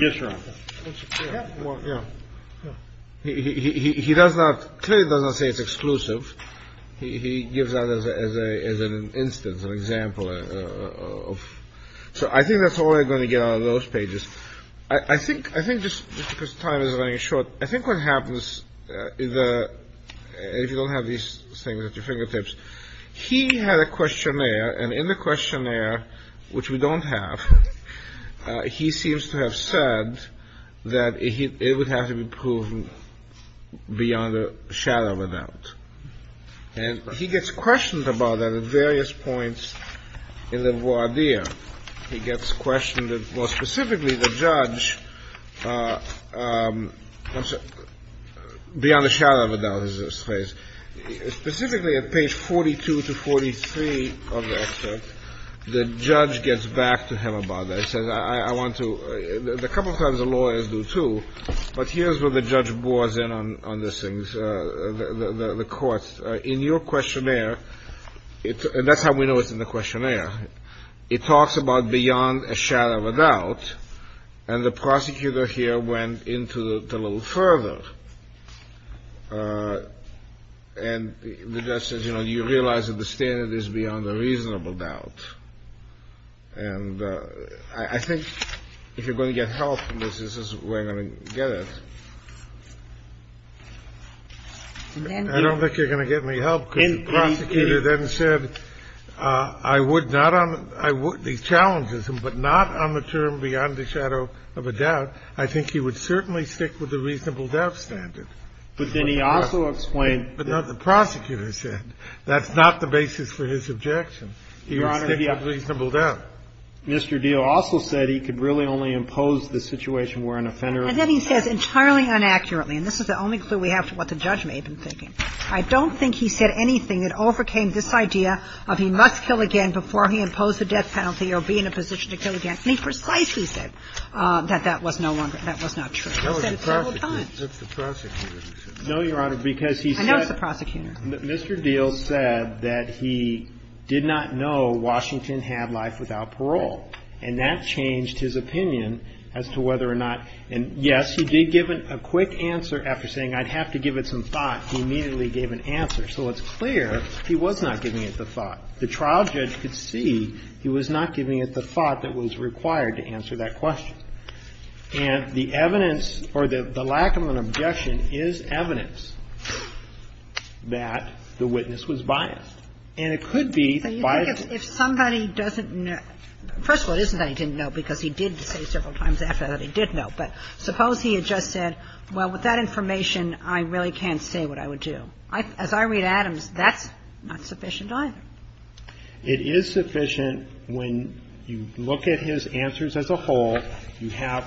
Yes, Your Honor. He does not say it's exclusive. He gives that as an instance, an example. So I think that's all you're going to get out of those pages. I think this time is running short. I think what happens is, if you don't have these things at your fingertips, he had a questionnaire, and in the questionnaire, which we don't have, he seems to have said that it would have to be proven beyond a shallow event. And he gets questioned about that at various points in the voir dire. He gets questioned. Well, specifically, the judge, beyond the shadow of a doubt, is his face. Specifically, at page 42 to 43 of the excerpt, the judge gets back to him about that. He says, I want to. A couple of times, the lawyers do, too. But here's where the judge bores in on these things. The court, in your questionnaire, and that's how we know it's in the questionnaire, it talks about beyond a shadow of a doubt. And the prosecutor here went into it a little further. And the judge says, you know, you realize that the standard is beyond a reasonable doubt. And I think if you're going to get help from this, this is where I'm going to get it. I don't think you're going to get any help. The prosecutor then said, I would not. I would. He challenges him, but not on the term beyond the shadow of a doubt. I think he would certainly stick with the reasonable doubt standard. But then he also explained. The prosecutor said that's not the basis for his objection. Your Honor, Mr. Deal also said he could really only impose the situation where an offender. And then he says entirely inaccurately. And this is the only clue we have for what the judge may have been thinking. I don't think he said anything that overcame this idea of he must kill again before he imposed a death penalty or be in a position to kill again. And he precisely said that that was no longer, that was not true. He said it several times. No, Your Honor, because he said. And that was the prosecutor. Mr. Deal said that he did not know Washington had life without parole. And that changed his opinion as to whether or not. And yes, he did give a quick answer after saying I'd have to give it some thought. He immediately gave an answer. So it's clear he was not giving it the thought. The trial judge could see he was not giving it the thought that was required to answer that question. And the evidence or the lack of an objection is evidence that the witness was biased. And it could be biased. But you think if somebody doesn't know, first of all, it isn't that he didn't know because he did say several times after that he did know. But suppose he had just said, well, with that information, I really can't say what I would do. As I read Adams, that's not sufficient either. It is sufficient when you look at his answers as a whole. You have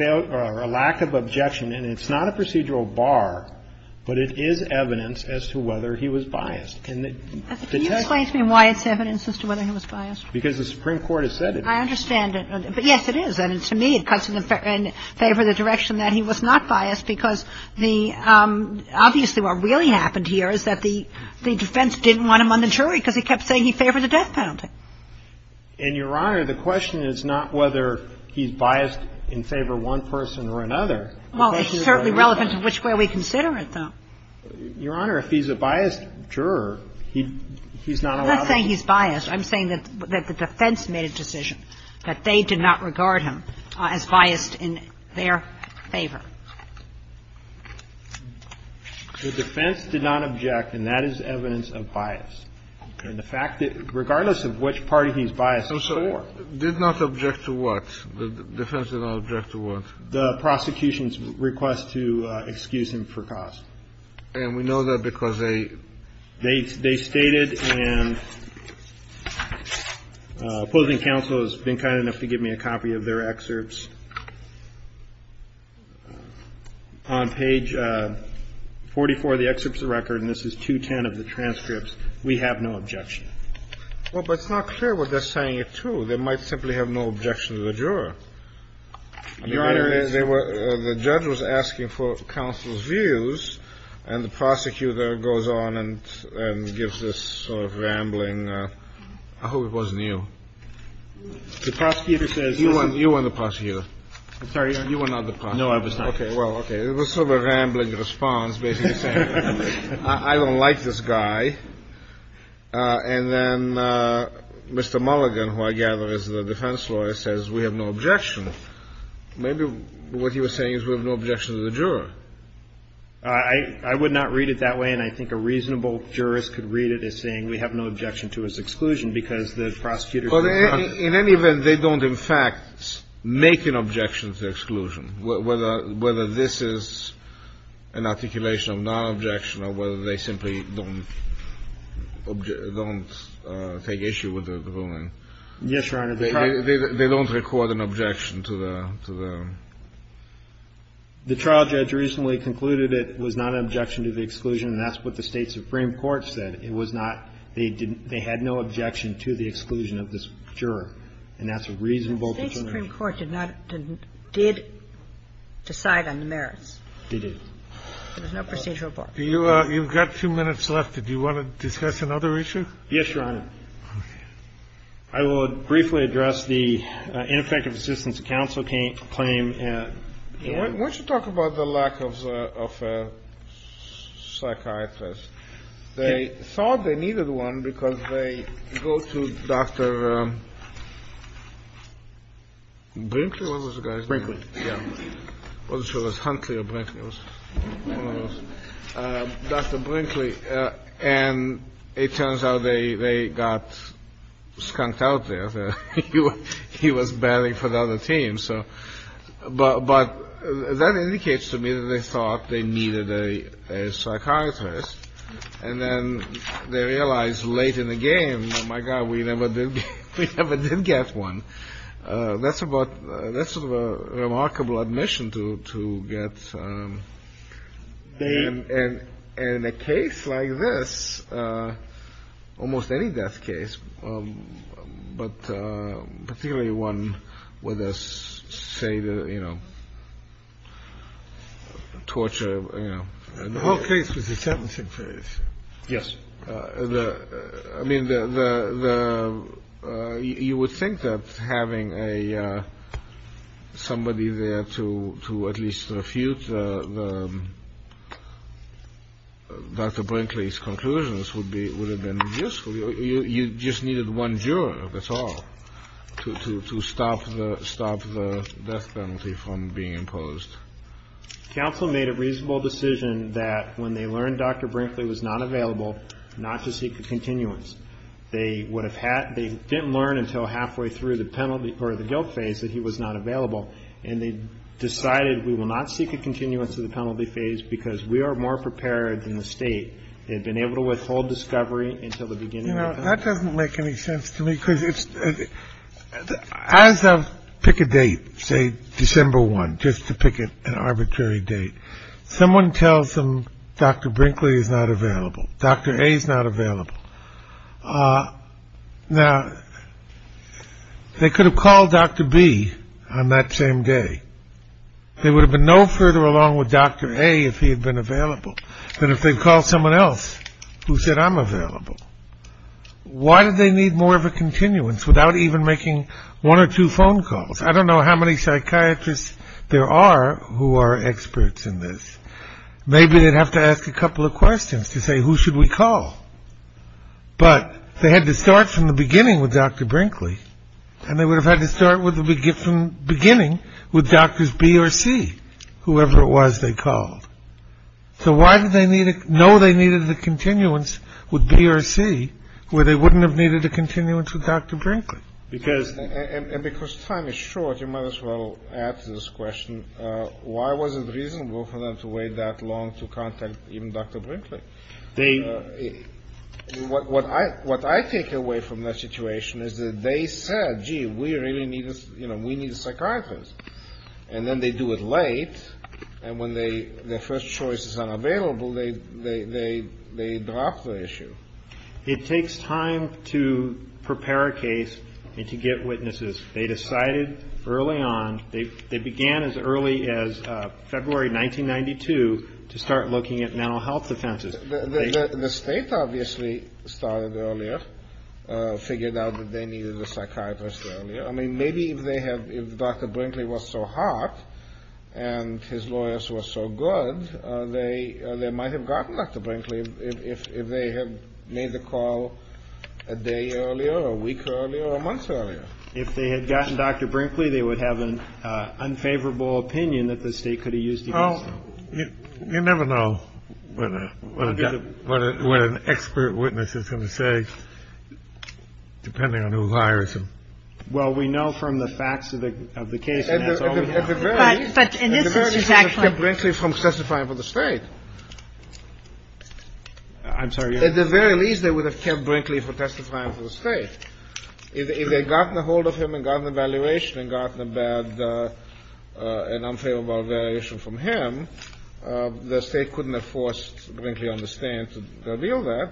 a lack of objection. And it's not a procedural bar. But it is evidence as to whether he was biased. Can you explain to me why it's evidence as to whether he was biased? Because the Supreme Court has said it. I understand. But yes, it is. And to me, it cuts in favor of the direction that he was not biased. Yes, because obviously what really happened here is that the defense didn't want him on the jury because he kept saying he favored the death penalty. And, Your Honor, the question is not whether he's biased in favor of one person or another. Well, it's certainly relevant to which way we consider it, though. Your Honor, if he's a biased juror, he's not allowed to be. I'm not saying he's biased. I'm saying that the defense made a decision that they did not regard him as biased in their favor. The defense did not object, and that is evidence of bias. And the fact that regardless of which party he's biased for. Did not object to what? The defense did not object to what? The prosecution's request to excuse him for gossip. And we know that because they. They stated and opposing counsel has been kind enough to give me a copy of their excerpts. On page 44, the excerpts of the record, and this is 210 of the transcripts. We have no objection. Well, but it's not clear what they're saying it to. They might simply have no objection to the juror. Your Honor, the judge was asking for counsel's views and the prosecutor goes on and gives this sort of rambling. I hope it wasn't you. The prosecutor says. You weren't the prosecutor. I'm sorry. You were not the prosecutor. No, I was not. Well, OK. It was sort of a rambling response. I don't like this guy. And then Mr. Mulligan, who I gather is the defense lawyer, says we have no objection. Maybe what he was saying is we have no objection to the juror. I would not read it that way. And I think a reasonable jurist could read it as saying we have no objection to his exclusion because the prosecutor. In any event, they don't, in fact, make an objection to exclusion. Whether this is an articulation of non-objection or whether they simply don't take issue with the ruling. Yes, Your Honor. They don't record an objection to the. The trial judge recently concluded it was not an objection to the exclusion. That's what the State Supreme Court said. It was not. They had no objection to the exclusion of this juror. And that's a reasonable. The Supreme Court did not did decide on the merits. It is. There's no procedural. You've got two minutes left. Did you want to discuss another issue? Yes, Your Honor. I will briefly address the ineffective assistance counsel can claim. I want to talk about the lack of a psychiatrist. They thought they needed one because they go to Dr. Brinkley was a guy. Yeah. Well, she was hungry. Dr. Brinkley. And it turns out they got skunked out there. He was batting for the other team. But that indicates to me that they thought they needed a psychiatrist. And then they realized late in the game. My God, we never did. We never did get one. That's a remarkable admission to get in a case like this. Almost any death case. But particularly one with this, say, you know, torture. OK. Yes. I mean, you would think that having a somebody there to to at least a few. I mean, you would think that Dr. Brinkley's conclusions would be would have been useful. You just needed one juror. That's all. To stop the stop the death penalty from being imposed. Counsel made a reasonable decision that when they learned Dr. Brinkley was not available, not to seek a continuance. They would have had they didn't learn until halfway through the penalty for the guilt phase that he was not available. And they decided we will not seek a continuance of the penalty phase because we are more prepared in the state. They've been able to withhold discovery until the beginning. That doesn't make any sense to me. Pick a date, say, December 1, just to pick an arbitrary date. Someone tells them Dr. Brinkley is not available. Dr. A is not available. Now, they could have called Dr. B on that same day. They would have been no further along with Dr. A if he had been available than if they'd called someone else who said I'm available. Why did they need more of a continuance without even making one or two phone calls? I don't know how many psychiatrists there are who are experts in this. Maybe they'd have to ask a couple of questions to say who should we call. But they had to start from the beginning with Dr. Brinkley, and they would have had to start with the beginning with Drs. B or C, whoever it was they called. So why did they know they needed a continuance with B or C where they wouldn't have needed a continuance with Dr. Brinkley? And because time is short, you might as well ask this question. Why was it reasonable for them to wait that long to contact even Dr. Brinkley? What I take away from that situation is that they said, gee, we really need a psychiatrist. And then they do it late. And when their first choice is unavailable, they drop the issue. It takes time to prepare a case and to get witnesses. They decided early on. They began as early as February 1992 to start looking at mental health defenses. The state obviously started earlier, figured out that they needed a psychiatrist. I mean, maybe if they have Dr. Brinkley was so hot and his lawyers were so good, they might have gotten Dr. Brinkley if they had made the call a day earlier or a week earlier or a month earlier. If they had gotten Dr. Brinkley, they would have an unfavorable opinion that the state could have used. You never know when an expert witness is going to say, depending on who hires him. Well, we know from the facts of the case. At the very least, they would have kept Brinkley from testifying for the state. I'm sorry? At the very least, they would have kept Brinkley from testifying for the state. If they had gotten a hold of him and gotten a valuation and gotten a bad and unfavorable variation from him, the state couldn't have forced Brinkley on the stand to deal with that.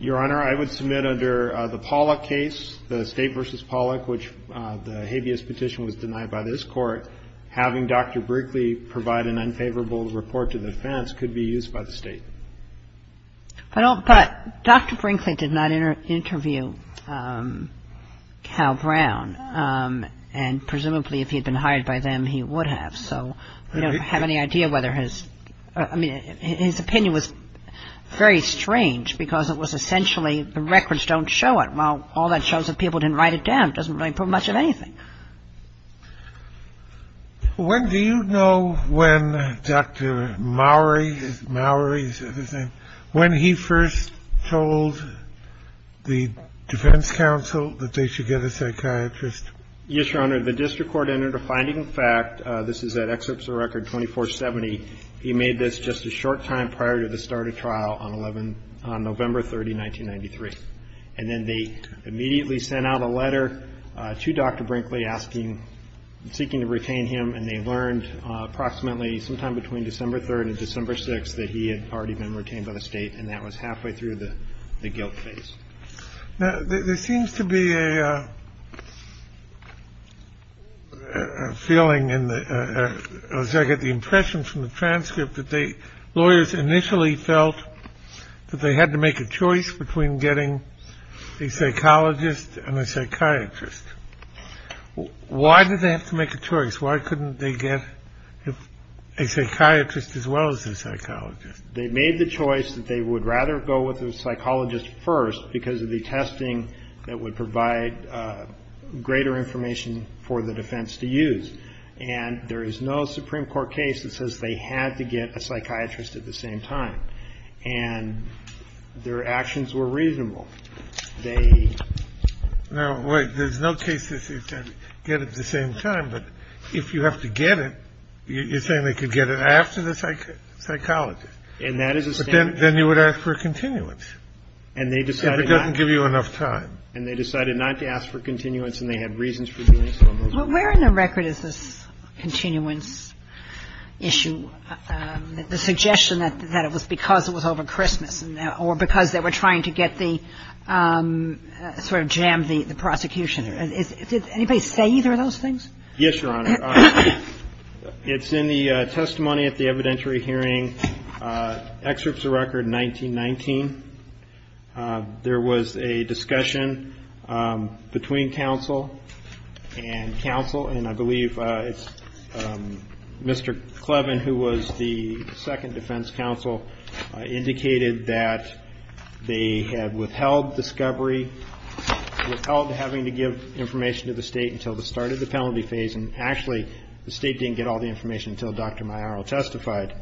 Your Honor, I would submit under the Pollack case, the state versus Pollack, which the habeas petition was denied by this court, having Dr. Brinkley provide an unfavorable report to the defense could be used by the state. Well, but Dr. Brinkley did not interview Cal Brown. And presumably if he had been hired by them, he would have. So I don't have any idea whether his opinion was very strange because it was essentially the records don't show it. Well, all that shows that people didn't write it down. It doesn't prove much of anything. When do you know when Dr. Mowry, Mowry, when he first told the defense counsel that they should get a psychiatrist? Yes, Your Honor. The district court entered a finding. In fact, this is that excerpt of the record 2470. He made this just a short time prior to the start of trial on November 30, 1993. And then they immediately sent out a letter to Dr. Brinkley asking, seeking to retain him. And they learned approximately sometime between December 3rd and December 6th that he had already been retained by the state. And that was halfway through the guilt phase. Now, there seems to be a. Feeling in the impression from the transcript that the lawyers initially felt that they had to make a choice between getting a psychologist and a psychiatrist. Why did they have to make a choice? Why couldn't they get a psychiatrist as well as a psychologist? They made the choice that they would rather go with a psychologist first because of the testing that would provide greater information for the defense to use. And there is no Supreme Court case that says they had to get a psychiatrist at the same time. And their actions were reasonable. They know what there's no case to get at the same time. But if you have to get it, you're saying they could get it after the psychologist. And that is then you would ask for a continuance. And they decided to give you enough time and they decided not to ask for continuance. And they had reasons for doing so. Where in the record is this continuance issue? The suggestion that it was because it was over Christmas or because they were trying to get the sort of jammed the prosecution. Did anybody say either of those things? Yes, Your Honor. It's in the testimony at the evidentiary hearing. Excerpts of record 1919. There was a discussion between counsel and counsel. And I believe Mr. Clevin, who was the second defense counsel, indicated that they had withheld discovery. Withheld having to give information to the state until the start of the penalty phase. And actually, the state didn't get all the information until Dr. Meierl testified.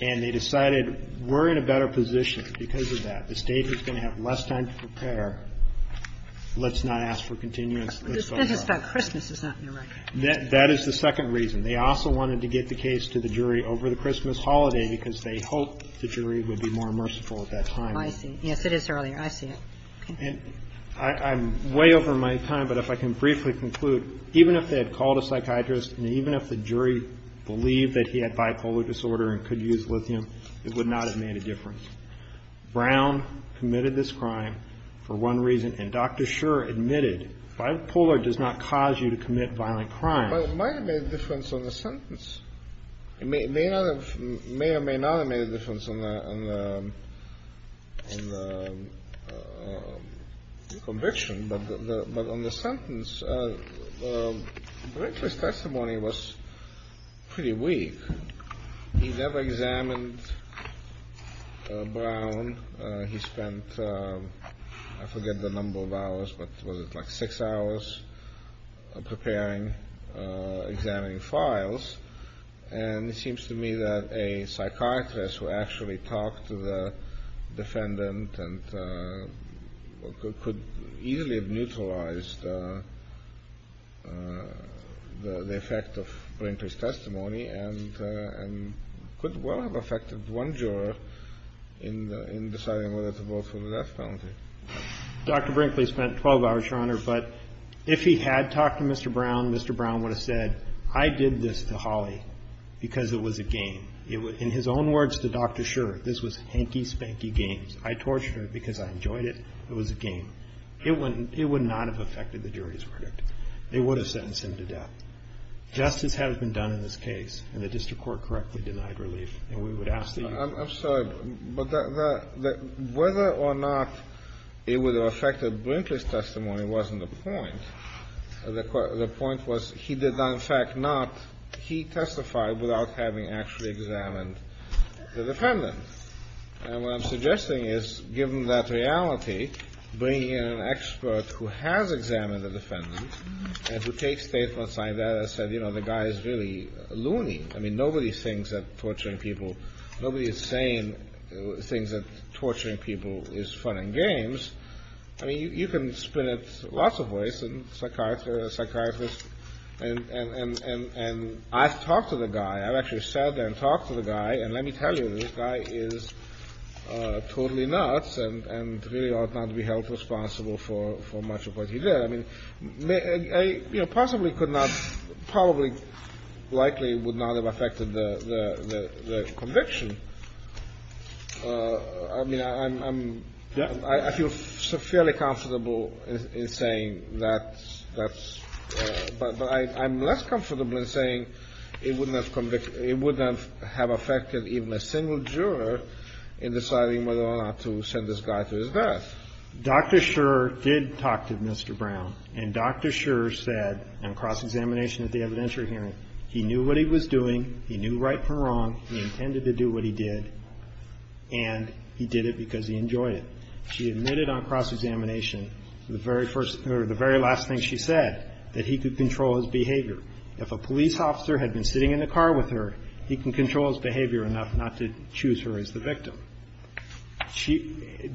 And they decided we're in a better position because of that. The state is going to have less time to prepare. Let's not ask for continuance. Christmas is not in the record. That is the second reason. They also wanted to get the case to the jury over the Christmas holiday because they hoped the jury would be more merciful at that time. I see. Yes, it is earlier. I see it. I'm way over my time, but if I can briefly conclude, even if they had called a psychiatrist, and even if the jury believed that he had bipolar disorder and could use lithium, it would not have made a difference. Brown committed this crime for one reason. And Dr. Scherr admitted bipolar does not cause you to commit violent crimes. But it might have made a difference on the sentence. It may or may not have made a difference on the conviction. But on the sentence, the witness testimony was pretty weak. He never examined Brown. He spent, I forget the number of hours, but was it like six hours, preparing, examining files. And it seems to me that a psychiatrist who actually talked to the defendant could easily have neutralized the effect of Blinter's testimony and could well have effected one juror in deciding whether to vote for the death penalty. Dr. Brinkley spent 12 hours, Your Honor, but if he had talked to Mr. Brown, Mr. Brown would have said, I did this to Holly because it was a game. In his own words to Dr. Scherr, this was hanky spanky games. I tortured her because I enjoyed it. It was a game. It would not have effected the jury's verdict. They would have sentenced him to death. Justice had it done in this case, and the district court correctly denied relief. I'm sorry, but whether or not it would have effected Brinkley's testimony wasn't the point. The point was he did not, in fact not, he testified without having actually examined the defendant. And what I'm suggesting is, given that reality, bringing in an expert who has examined the defendant and who takes statements like that and says, you know, the guy is really loony. I mean, nobody thinks that torturing people, nobody is saying things that torturing people is fun and games. I mean, you can split it lots of ways. A psychiatrist, and I've talked to the guy. I've actually sat there and talked to the guy, and let me tell you, this guy is totally nuts and really ought not to be held responsible for much of what he did. I mean, possibly could not, probably likely would not have effected the conviction. I mean, I feel fairly comfortable in saying that, but I'm less comfortable in saying it wouldn't have effected even a single juror in deciding whether or not to send this guy to his death. Dr. Scherer did talk to Mr. Brown, and Dr. Scherer said, on cross-examination at the evidentiary hearing, he knew what he was doing, he knew right from wrong, he intended to do what he did, and he did it because he enjoyed it. She admitted on cross-examination, the very first, or the very last thing she said, that he could control his behavior. If a police officer had been sitting in the car with her, he can control his behavior enough not to choose her as the victim.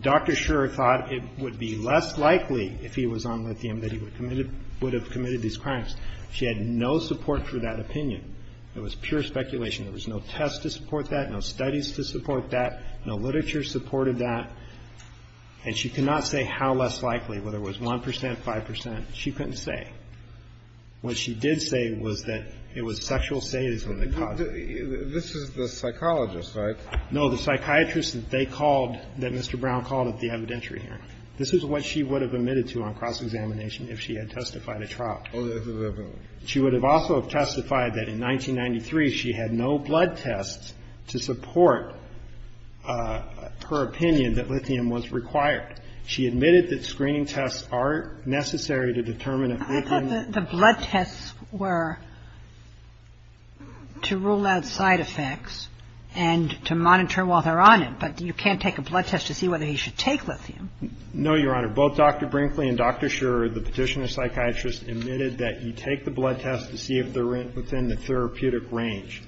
Dr. Scherer thought it would be less likely, if he was on lithium, that he would have committed these crimes. She had no support for that opinion. It was pure speculation. There was no test to support that, no studies to support that, no literature supported that, and she could not say how less likely, whether it was 1%, 5%. She couldn't say. What she did say was that it was sexual status that caused it. This is the psychologist, right? No, the psychiatrist that they called, that Mr. Brown called at the evidentiary hearing. This is what she would have admitted to on cross-examination, if she had testified at trial. She would have also testified that in 1993, she had no blood tests to support her opinion that lithium was required. She admitted that screen tests are necessary to determine if lithium... But you can't take a blood test to see whether you should take lithium. No, Your Honor. Both Dr. Brinkley and Dr. Scherer, the petitioner and psychiatrist, admitted that you take the blood test to see if they're within the therapeutic range.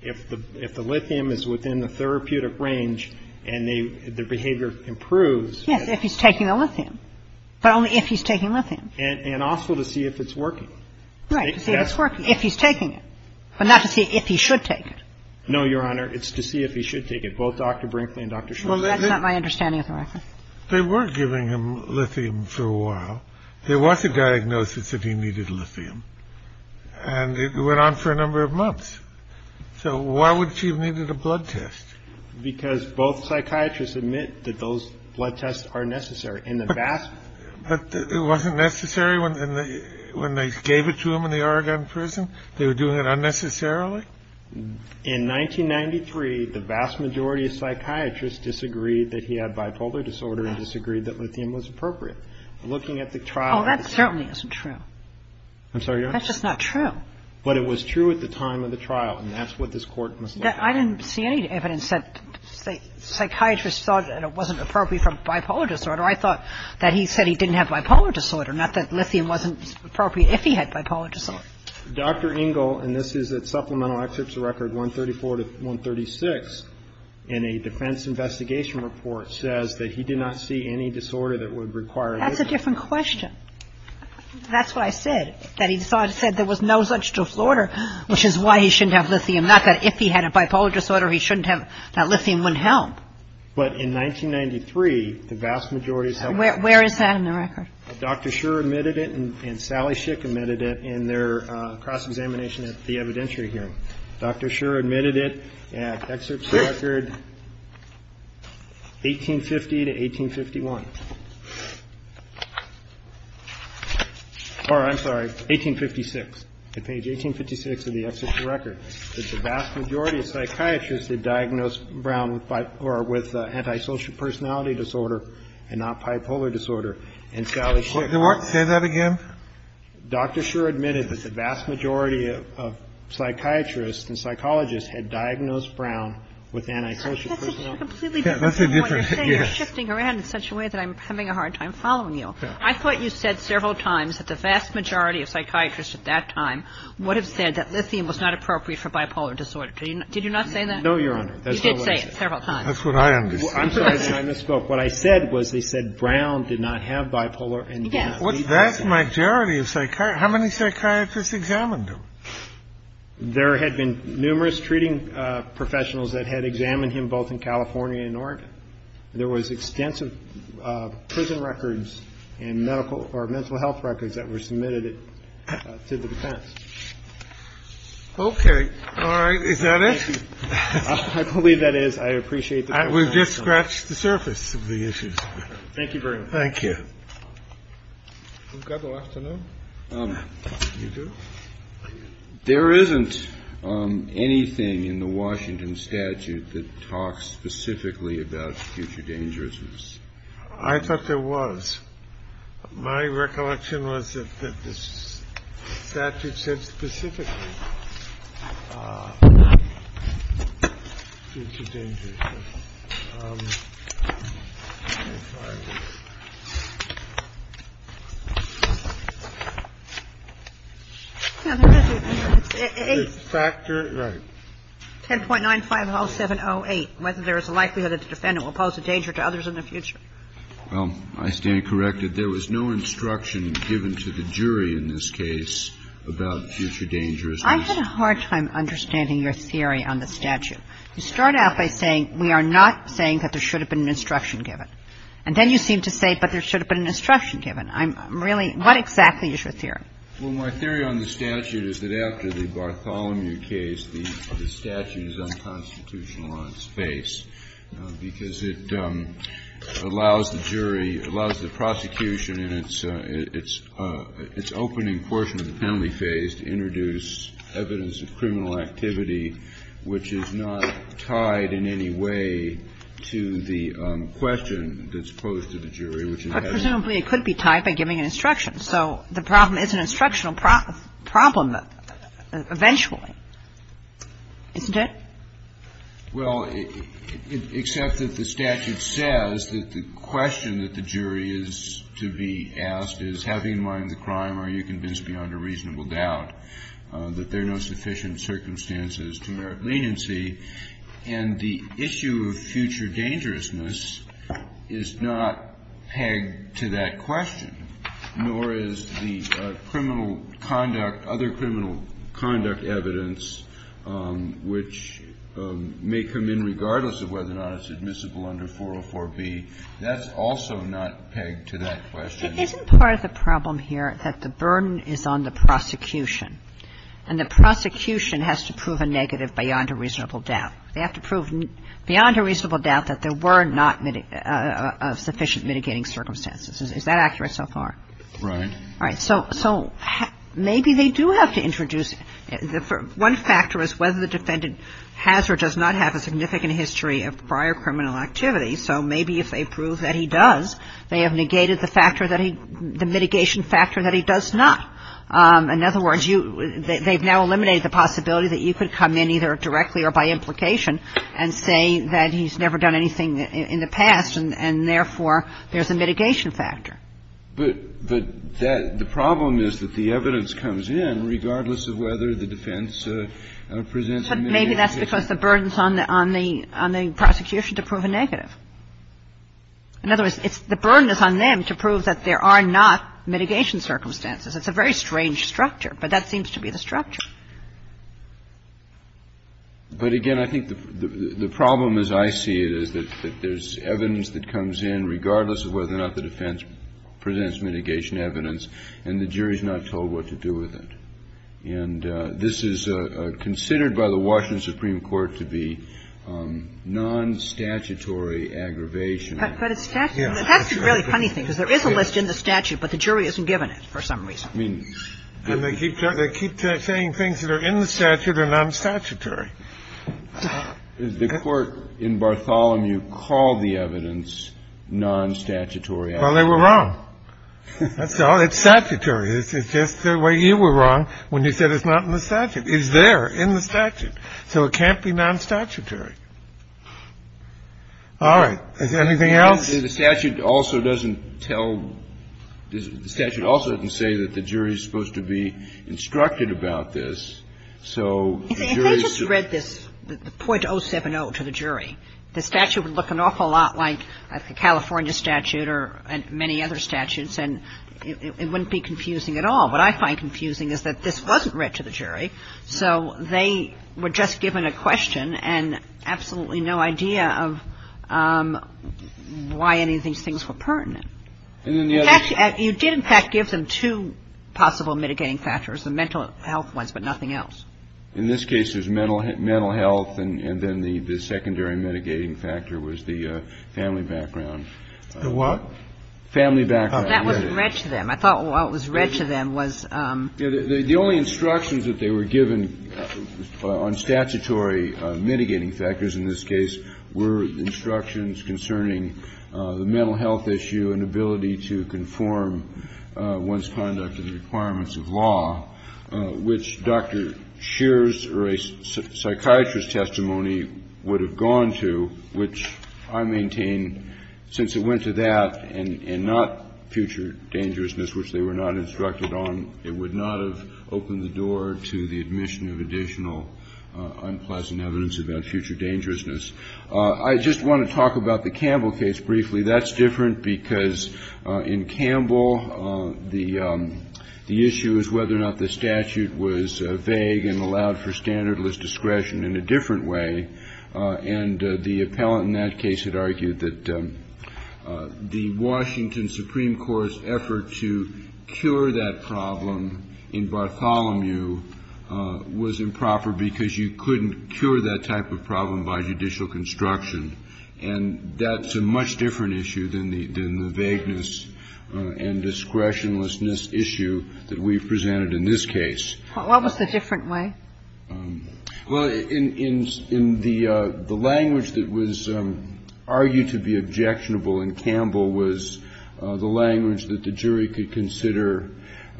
If the lithium is within the therapeutic range and the behavior improves... Yes, if he's taking the lithium, but only if he's taking lithium. And also to see if it's working. Right, to see if it's working, if he's taking it, but not to see if he should take it. No, Your Honor. It's to see if he should take it. Both Dr. Brinkley and Dr. Scherer... Well, that's not my understanding of the record. They were giving him lithium for a while. There was a diagnosis that he needed lithium. And it went on for a number of months. So why would she have needed a blood test? Because both psychiatrists admit that those blood tests are necessary. In the vast... But it wasn't necessary when they gave it to him in the Oregon prison? They were doing it unnecessarily? In 1993, the vast majority of psychiatrists disagreed that he had bipolar disorder and disagreed that lithium was appropriate. Looking at the trial... Oh, that certainly isn't true. I'm sorry, Your Honor? That's just not true. But it was true at the time of the trial, and that's what this court must... I didn't see any evidence that psychiatrists thought that it wasn't appropriate for bipolar disorder. I thought that he said he didn't have bipolar disorder, not that lithium wasn't appropriate if he had bipolar disorder. Dr. Engel, and this is at supplemental excerpts of record 134 to 136, in a defense investigation report says that he did not see any disorder that would require lithium. That's a different question. That's what I said, that he said there was no such disorder, which is why he shouldn't have lithium, not that if he had a bipolar disorder he shouldn't have that lithium wouldn't help. But in 1993, the vast majority... Where is that in the record? Dr. Schur admitted it, and Sally Schick admitted it in their cross-examination at the evidentiary hearing. Dr. Schur admitted it at excerpts of record 1850 to 1851. Or, I'm sorry, 1856, to page 1856 of the excerpts of record, that the vast majority of psychiatrists had diagnosed Brown with antisocial personality disorder and not bipolar disorder. And Sally Schick... Say that again? Dr. Schur admitted that the vast majority of psychiatrists and psychologists had diagnosed Brown with antisocial personality disorder. That's a different... You're shifting around in such a way that I'm having a hard time following you. I thought you said several times that the vast majority of psychiatrists at that time would have said that lithium was not appropriate for bipolar disorder. Did you not say that? No, Your Honor. You did say it several times. That's what I understood. I'm sorry, I misspoke. What I said was they said Brown did not have bipolar and did not see... The vast majority of psychiatrists... How many psychiatrists examined him? There had been numerous treating professionals that had examined him, both in California and Oregon. There was extensive prison records and medical or mental health records that were submitted to the defense. Okay. All right. Is that it? I believe that is. I appreciate... I will just scratch the surface of the issues. Thank you very much. Thank you. A couple I have to know. You do? There isn't anything in the Washington statute that talks specifically about future dangerisms. I thought there was. My recollection was that the statute said specifically future dangerism. The statute, right. 10.950708. Whether there is a likelihood that the defendant will pose a danger to others in the future. I stand corrected. There was no instruction given to the jury in this case about future dangerisms. I'm having a hard time understanding your theory on the statute. You start out by saying we are not saying that there should have been an instruction given. And then you seem to say but there should have been an instruction given. I'm really... What exactly is your theory? Well, my theory on the statute is that after the Bartholomew case, the statute is unconstitutional on its face because it allows the jury, allows the prosecution in its opening portion of the penalty case to introduce evidence of criminal activity, which is not tied in any way to the question that's posed to the jury. But presumably it could be tied by giving an instruction. So the problem is an instructional problem eventually. Isn't it? Well, except that the statute says that the question that the jury is to be asked is having in mind the crime, are you convinced beyond a reasonable doubt that there are no sufficient circumstances to merit leniency? And the issue of future dangerousness is not pegged to that question, nor is the criminal conduct, other criminal conduct evidence, which may come in regardless of whether or not it's admissible under 404B, that's also not pegged to that question. Isn't part of the problem here that the burden is on the prosecution? And the prosecution has to prove a negative beyond a reasonable doubt. They have to prove beyond a reasonable doubt that there were not sufficient mitigating circumstances. Is that accurate so far? Right. So maybe they do have to introduce, one factor is whether the defendant has or does not have a significant history of prior criminal activity. So maybe if they prove that he does, they have negated the mitigation factor that he does not. In other words, they've now eliminated the possibility that you could come in either directly or by implication and say that he's never done anything in the past, and therefore there's a mitigation factor. But the problem is that the evidence comes in regardless of whether the defense presents a mitigation factor. But maybe that's because the burden is on the prosecution to prove a negative. In other words, the burden is on them to prove that there are not mitigation circumstances. It's a very strange structure, but that seems to be the structure. But again, I think the problem as I see it is that there's evidence that comes in regardless of whether or not the defense presents mitigation evidence, and the jury's not told what to do with it. And this is considered by the Washington Supreme Court to be non-statutory aggravation. But it's statutory. That's the really funny thing, because there is a list in the statute, but the jury hasn't given it for some reason. I mean, they keep saying things that are in the statute are non-statutory. The court in Bartholomew called the evidence non-statutory. Well, they were wrong. That's all. It's statutory. It's just the way you were wrong when you said it's not in the statute. It's there in the statute. So it can't be non-statutory. All right. Anything else? The statute also doesn't say that the jury's supposed to be instructed about this. They just read this 0.070 to the jury. The statute would look an awful lot like the California statute or many other statutes, and it wouldn't be confusing at all. What I find confusing is that this wasn't read to the jury. So they were just given a question and absolutely no idea of why any of these things were pertinent. You did, in fact, give them two possible mitigating factors, the mental health ones, but nothing else. In this case, it was mental health, and then the secondary mitigating factor was the family background. The what? Family background. That was read to them. I thought what was read to them was... The only instructions that they were given on statutory mitigating factors in this case were instructions concerning the mental health issue and ability to conform one's conduct to the requirements of law, which Dr. Scheer's psychiatrist testimony would have gone to, which I maintain, since it went to that and not future dangerousness, which they were not instructed on, it would not have opened the door to the admission of additional unpleasant evidence about future dangerousness. I just want to talk about the Campbell case briefly. That's different because in Campbell, the issue is whether or not the statute was vague and allowed for standardless discretion in a different way. And the appellant in that case had argued that the Washington Supreme Court's effort to cure that problem in Bartholomew was improper because you couldn't cure that type of problem by judicial construction. And that's a much different issue than the vagueness and discretionlessness issue that we've presented in this case. What was the different way? Well, in the language that was argued to be objectionable in Campbell was the language that the jury could consider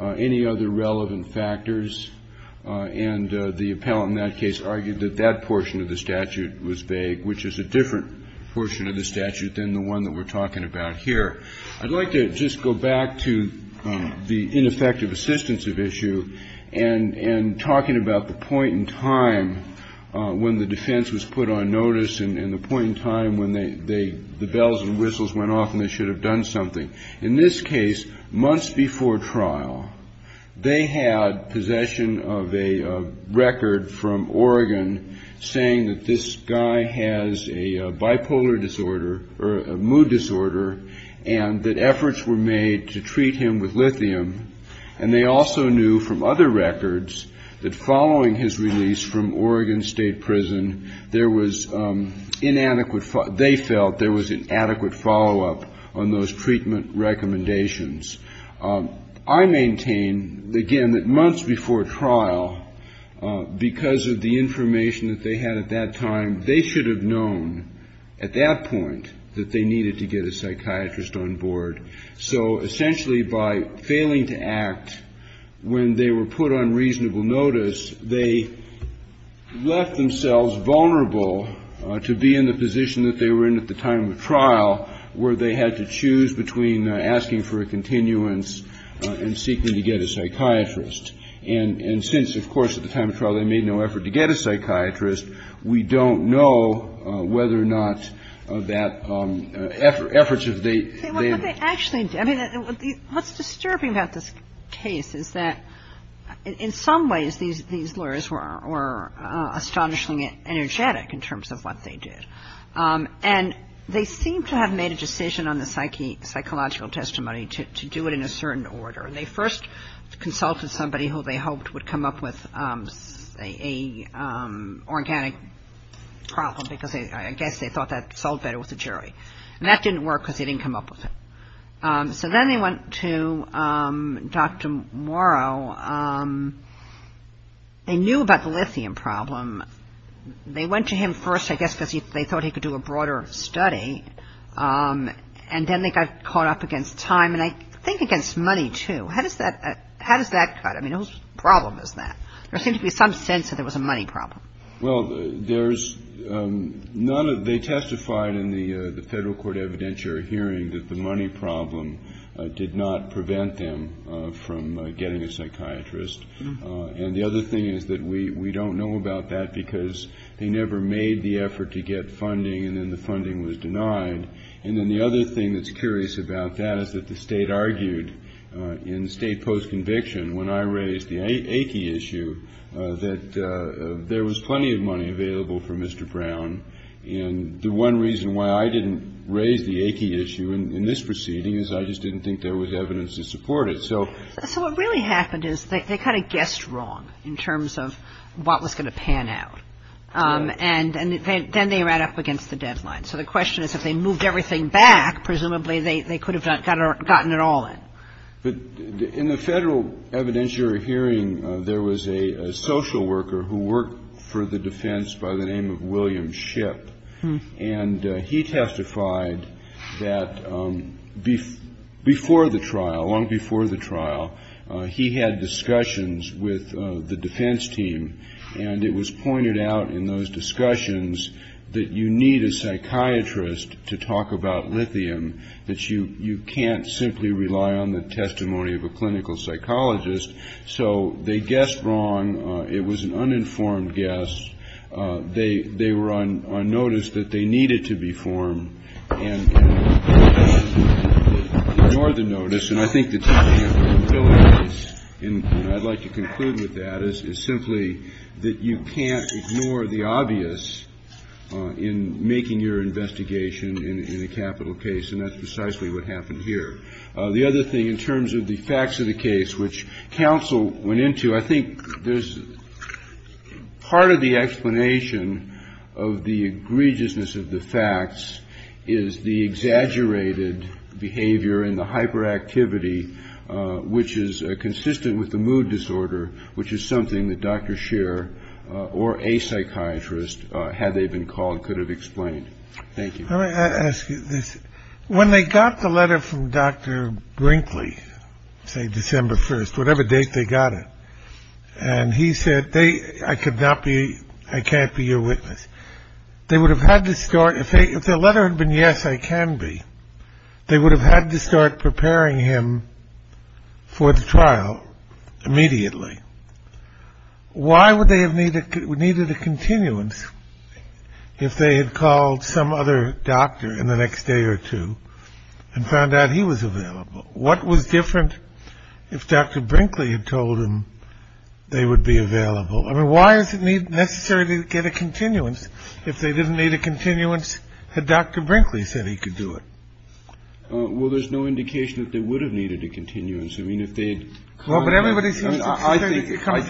any other relevant factors. And the appellant in that case argued that that portion of the statute was vague, which is a different portion of the statute than the one that we're talking about here. I'd like to just go back to the ineffective assistance of issue and talking about the point in time when the defense was put on notice and the point in time when the bells and whistles went off and they should have done something. In this case, months before trial, they had possession of a record from Oregon saying that this guy has a bipolar disorder or a mood disorder and that efforts were made to treat him with lithium. And they also knew from other records that following his release from Oregon State Prison, they felt there was an adequate follow-up on those treatment recommendations. I maintain, again, that months before trial, because of the information that they had at that time, they should have known at that point that they needed to get a psychiatrist on board. So essentially by failing to act when they were put on reasonable notice, they left themselves vulnerable to be in the position that they were in at the time of trial where they had to choose between asking for a continuance and seeking to get a psychiatrist. And since, of course, at the time of trial they made no effort to get a psychiatrist, we don't know whether or not that effort should be made. But they actually, I mean, what's disturbing about this case is that in some ways these lawyers were astonishingly energetic in terms of what they did. And they seem to have made a decision on the psychological testimony to do it in a certain order. They first consulted somebody who they hoped would come up with an organic problem, because I guess they thought that solved better with a jury. And that didn't work because they didn't come up with it. So then they went to Dr. Morrow. They knew about the lithium problem. They went to him first, I guess, because they thought he could do a broader study. And then they got caught up against time, and I think against money, too. How does that tie? I mean, whose problem is that? There seems to be some sense that there was a money problem. Well, there's none. They testified in the federal court evidentiary hearing that the money problem did not prevent them from getting a psychiatrist. And the other thing is that we don't know about that because they never made the effort to get funding, and then the funding was denied. And then the other thing that's curious about that is that the state argued in state post-conviction, when I raised the AT issue, that there was plenty of money available for Mr. Brown. And the one reason why I didn't raise the AT issue in this proceeding is I just didn't think there was evidence to support it. So what really happened is they kind of guessed wrong in terms of what was going to pan out. And then they ran up against the deadline. So the question is if they moved everything back, presumably they could have gotten it all in. In the federal evidentiary hearing, there was a social worker who worked for the defense by the name of William Shipp. And he testified that before the trial, long before the trial, he had discussions with the defense team. And it was pointed out in those discussions that you need a psychiatrist to talk about lithium, that you can't simply rely on the testimony of a clinical psychologist. So they guessed wrong. It was an uninformed guess. They were on notice that they needed to be formed and ignored the notice. And I think the technical inability is, and I'd like to conclude with that, is simply that you can't ignore the obvious in making your investigation in a capital case. And that's precisely what happened here. The other thing in terms of the facts of the case, which counsel went into, I think there's part of the explanation of the egregiousness of the facts is the exaggerated behavior and the hyperactivity, which is consistent with the mood disorder, which is something that Dr. Scheer or a psychiatrist, had they been called, could have explained. Thank you. Let me ask you this. When they got the letter from Dr. Brinkley, say, December 1st, whatever date they got it, and he said, I could not be, I can't be your witness. They would have had to start, if the letter had been yes, I can be. They would have had to start preparing him for the trial immediately. Why would they have needed needed a continuance if they had called some other doctor in the next day or two and found out he was available? What was different if Dr. Brinkley had told him they would be available? I mean, why is it necessary to get a continuance if they didn't need a continuance? Had Dr. Brinkley said he could do it? Well, there's no indication that they would have needed a continuance. Well, but everybody's here to talk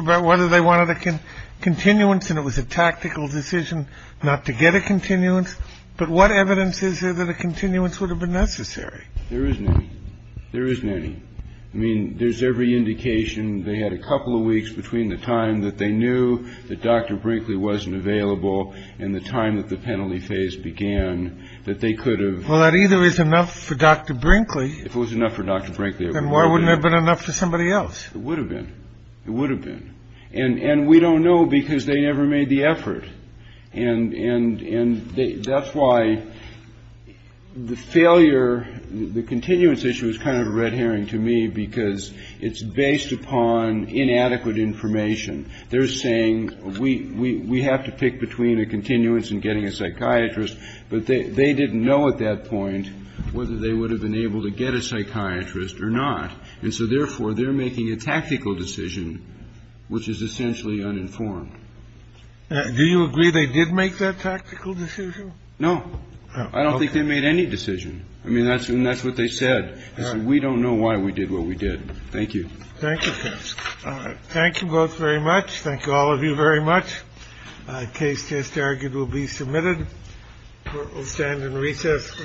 about whether they wanted a continuance, and it was a tactical decision not to get a continuance. But what evidence is there that a continuance would have been necessary? There is none. There is none. I mean, there's every indication. They had a couple of weeks between the time that they knew that Dr. Brinkley wasn't available and the time that the penalty phase began that they could have. Well, that either is enough for Dr. Brinkley. If it was enough for Dr. Brinkley. Then why wouldn't it have been enough for somebody else? It would have been. It would have been. And we don't know because they never made the effort. And that's why the failure, the continuance issue is kind of a red herring to me because it's based upon inadequate information. They're saying we have to pick between a continuance and getting a psychiatrist, but they didn't know at that point whether they would have been able to get a psychiatrist or not. And so, therefore, they're making a tactical decision, which is essentially uninformed. Do you agree they did make that tactical decision? No, I don't think they made any decision. I mean, that's what they said. We don't know why we did what we did. Thank you. Thank you. All right. Thank you both very much. Thank all of you very much. Case disargued will be submitted. We'll stand in recess for the day.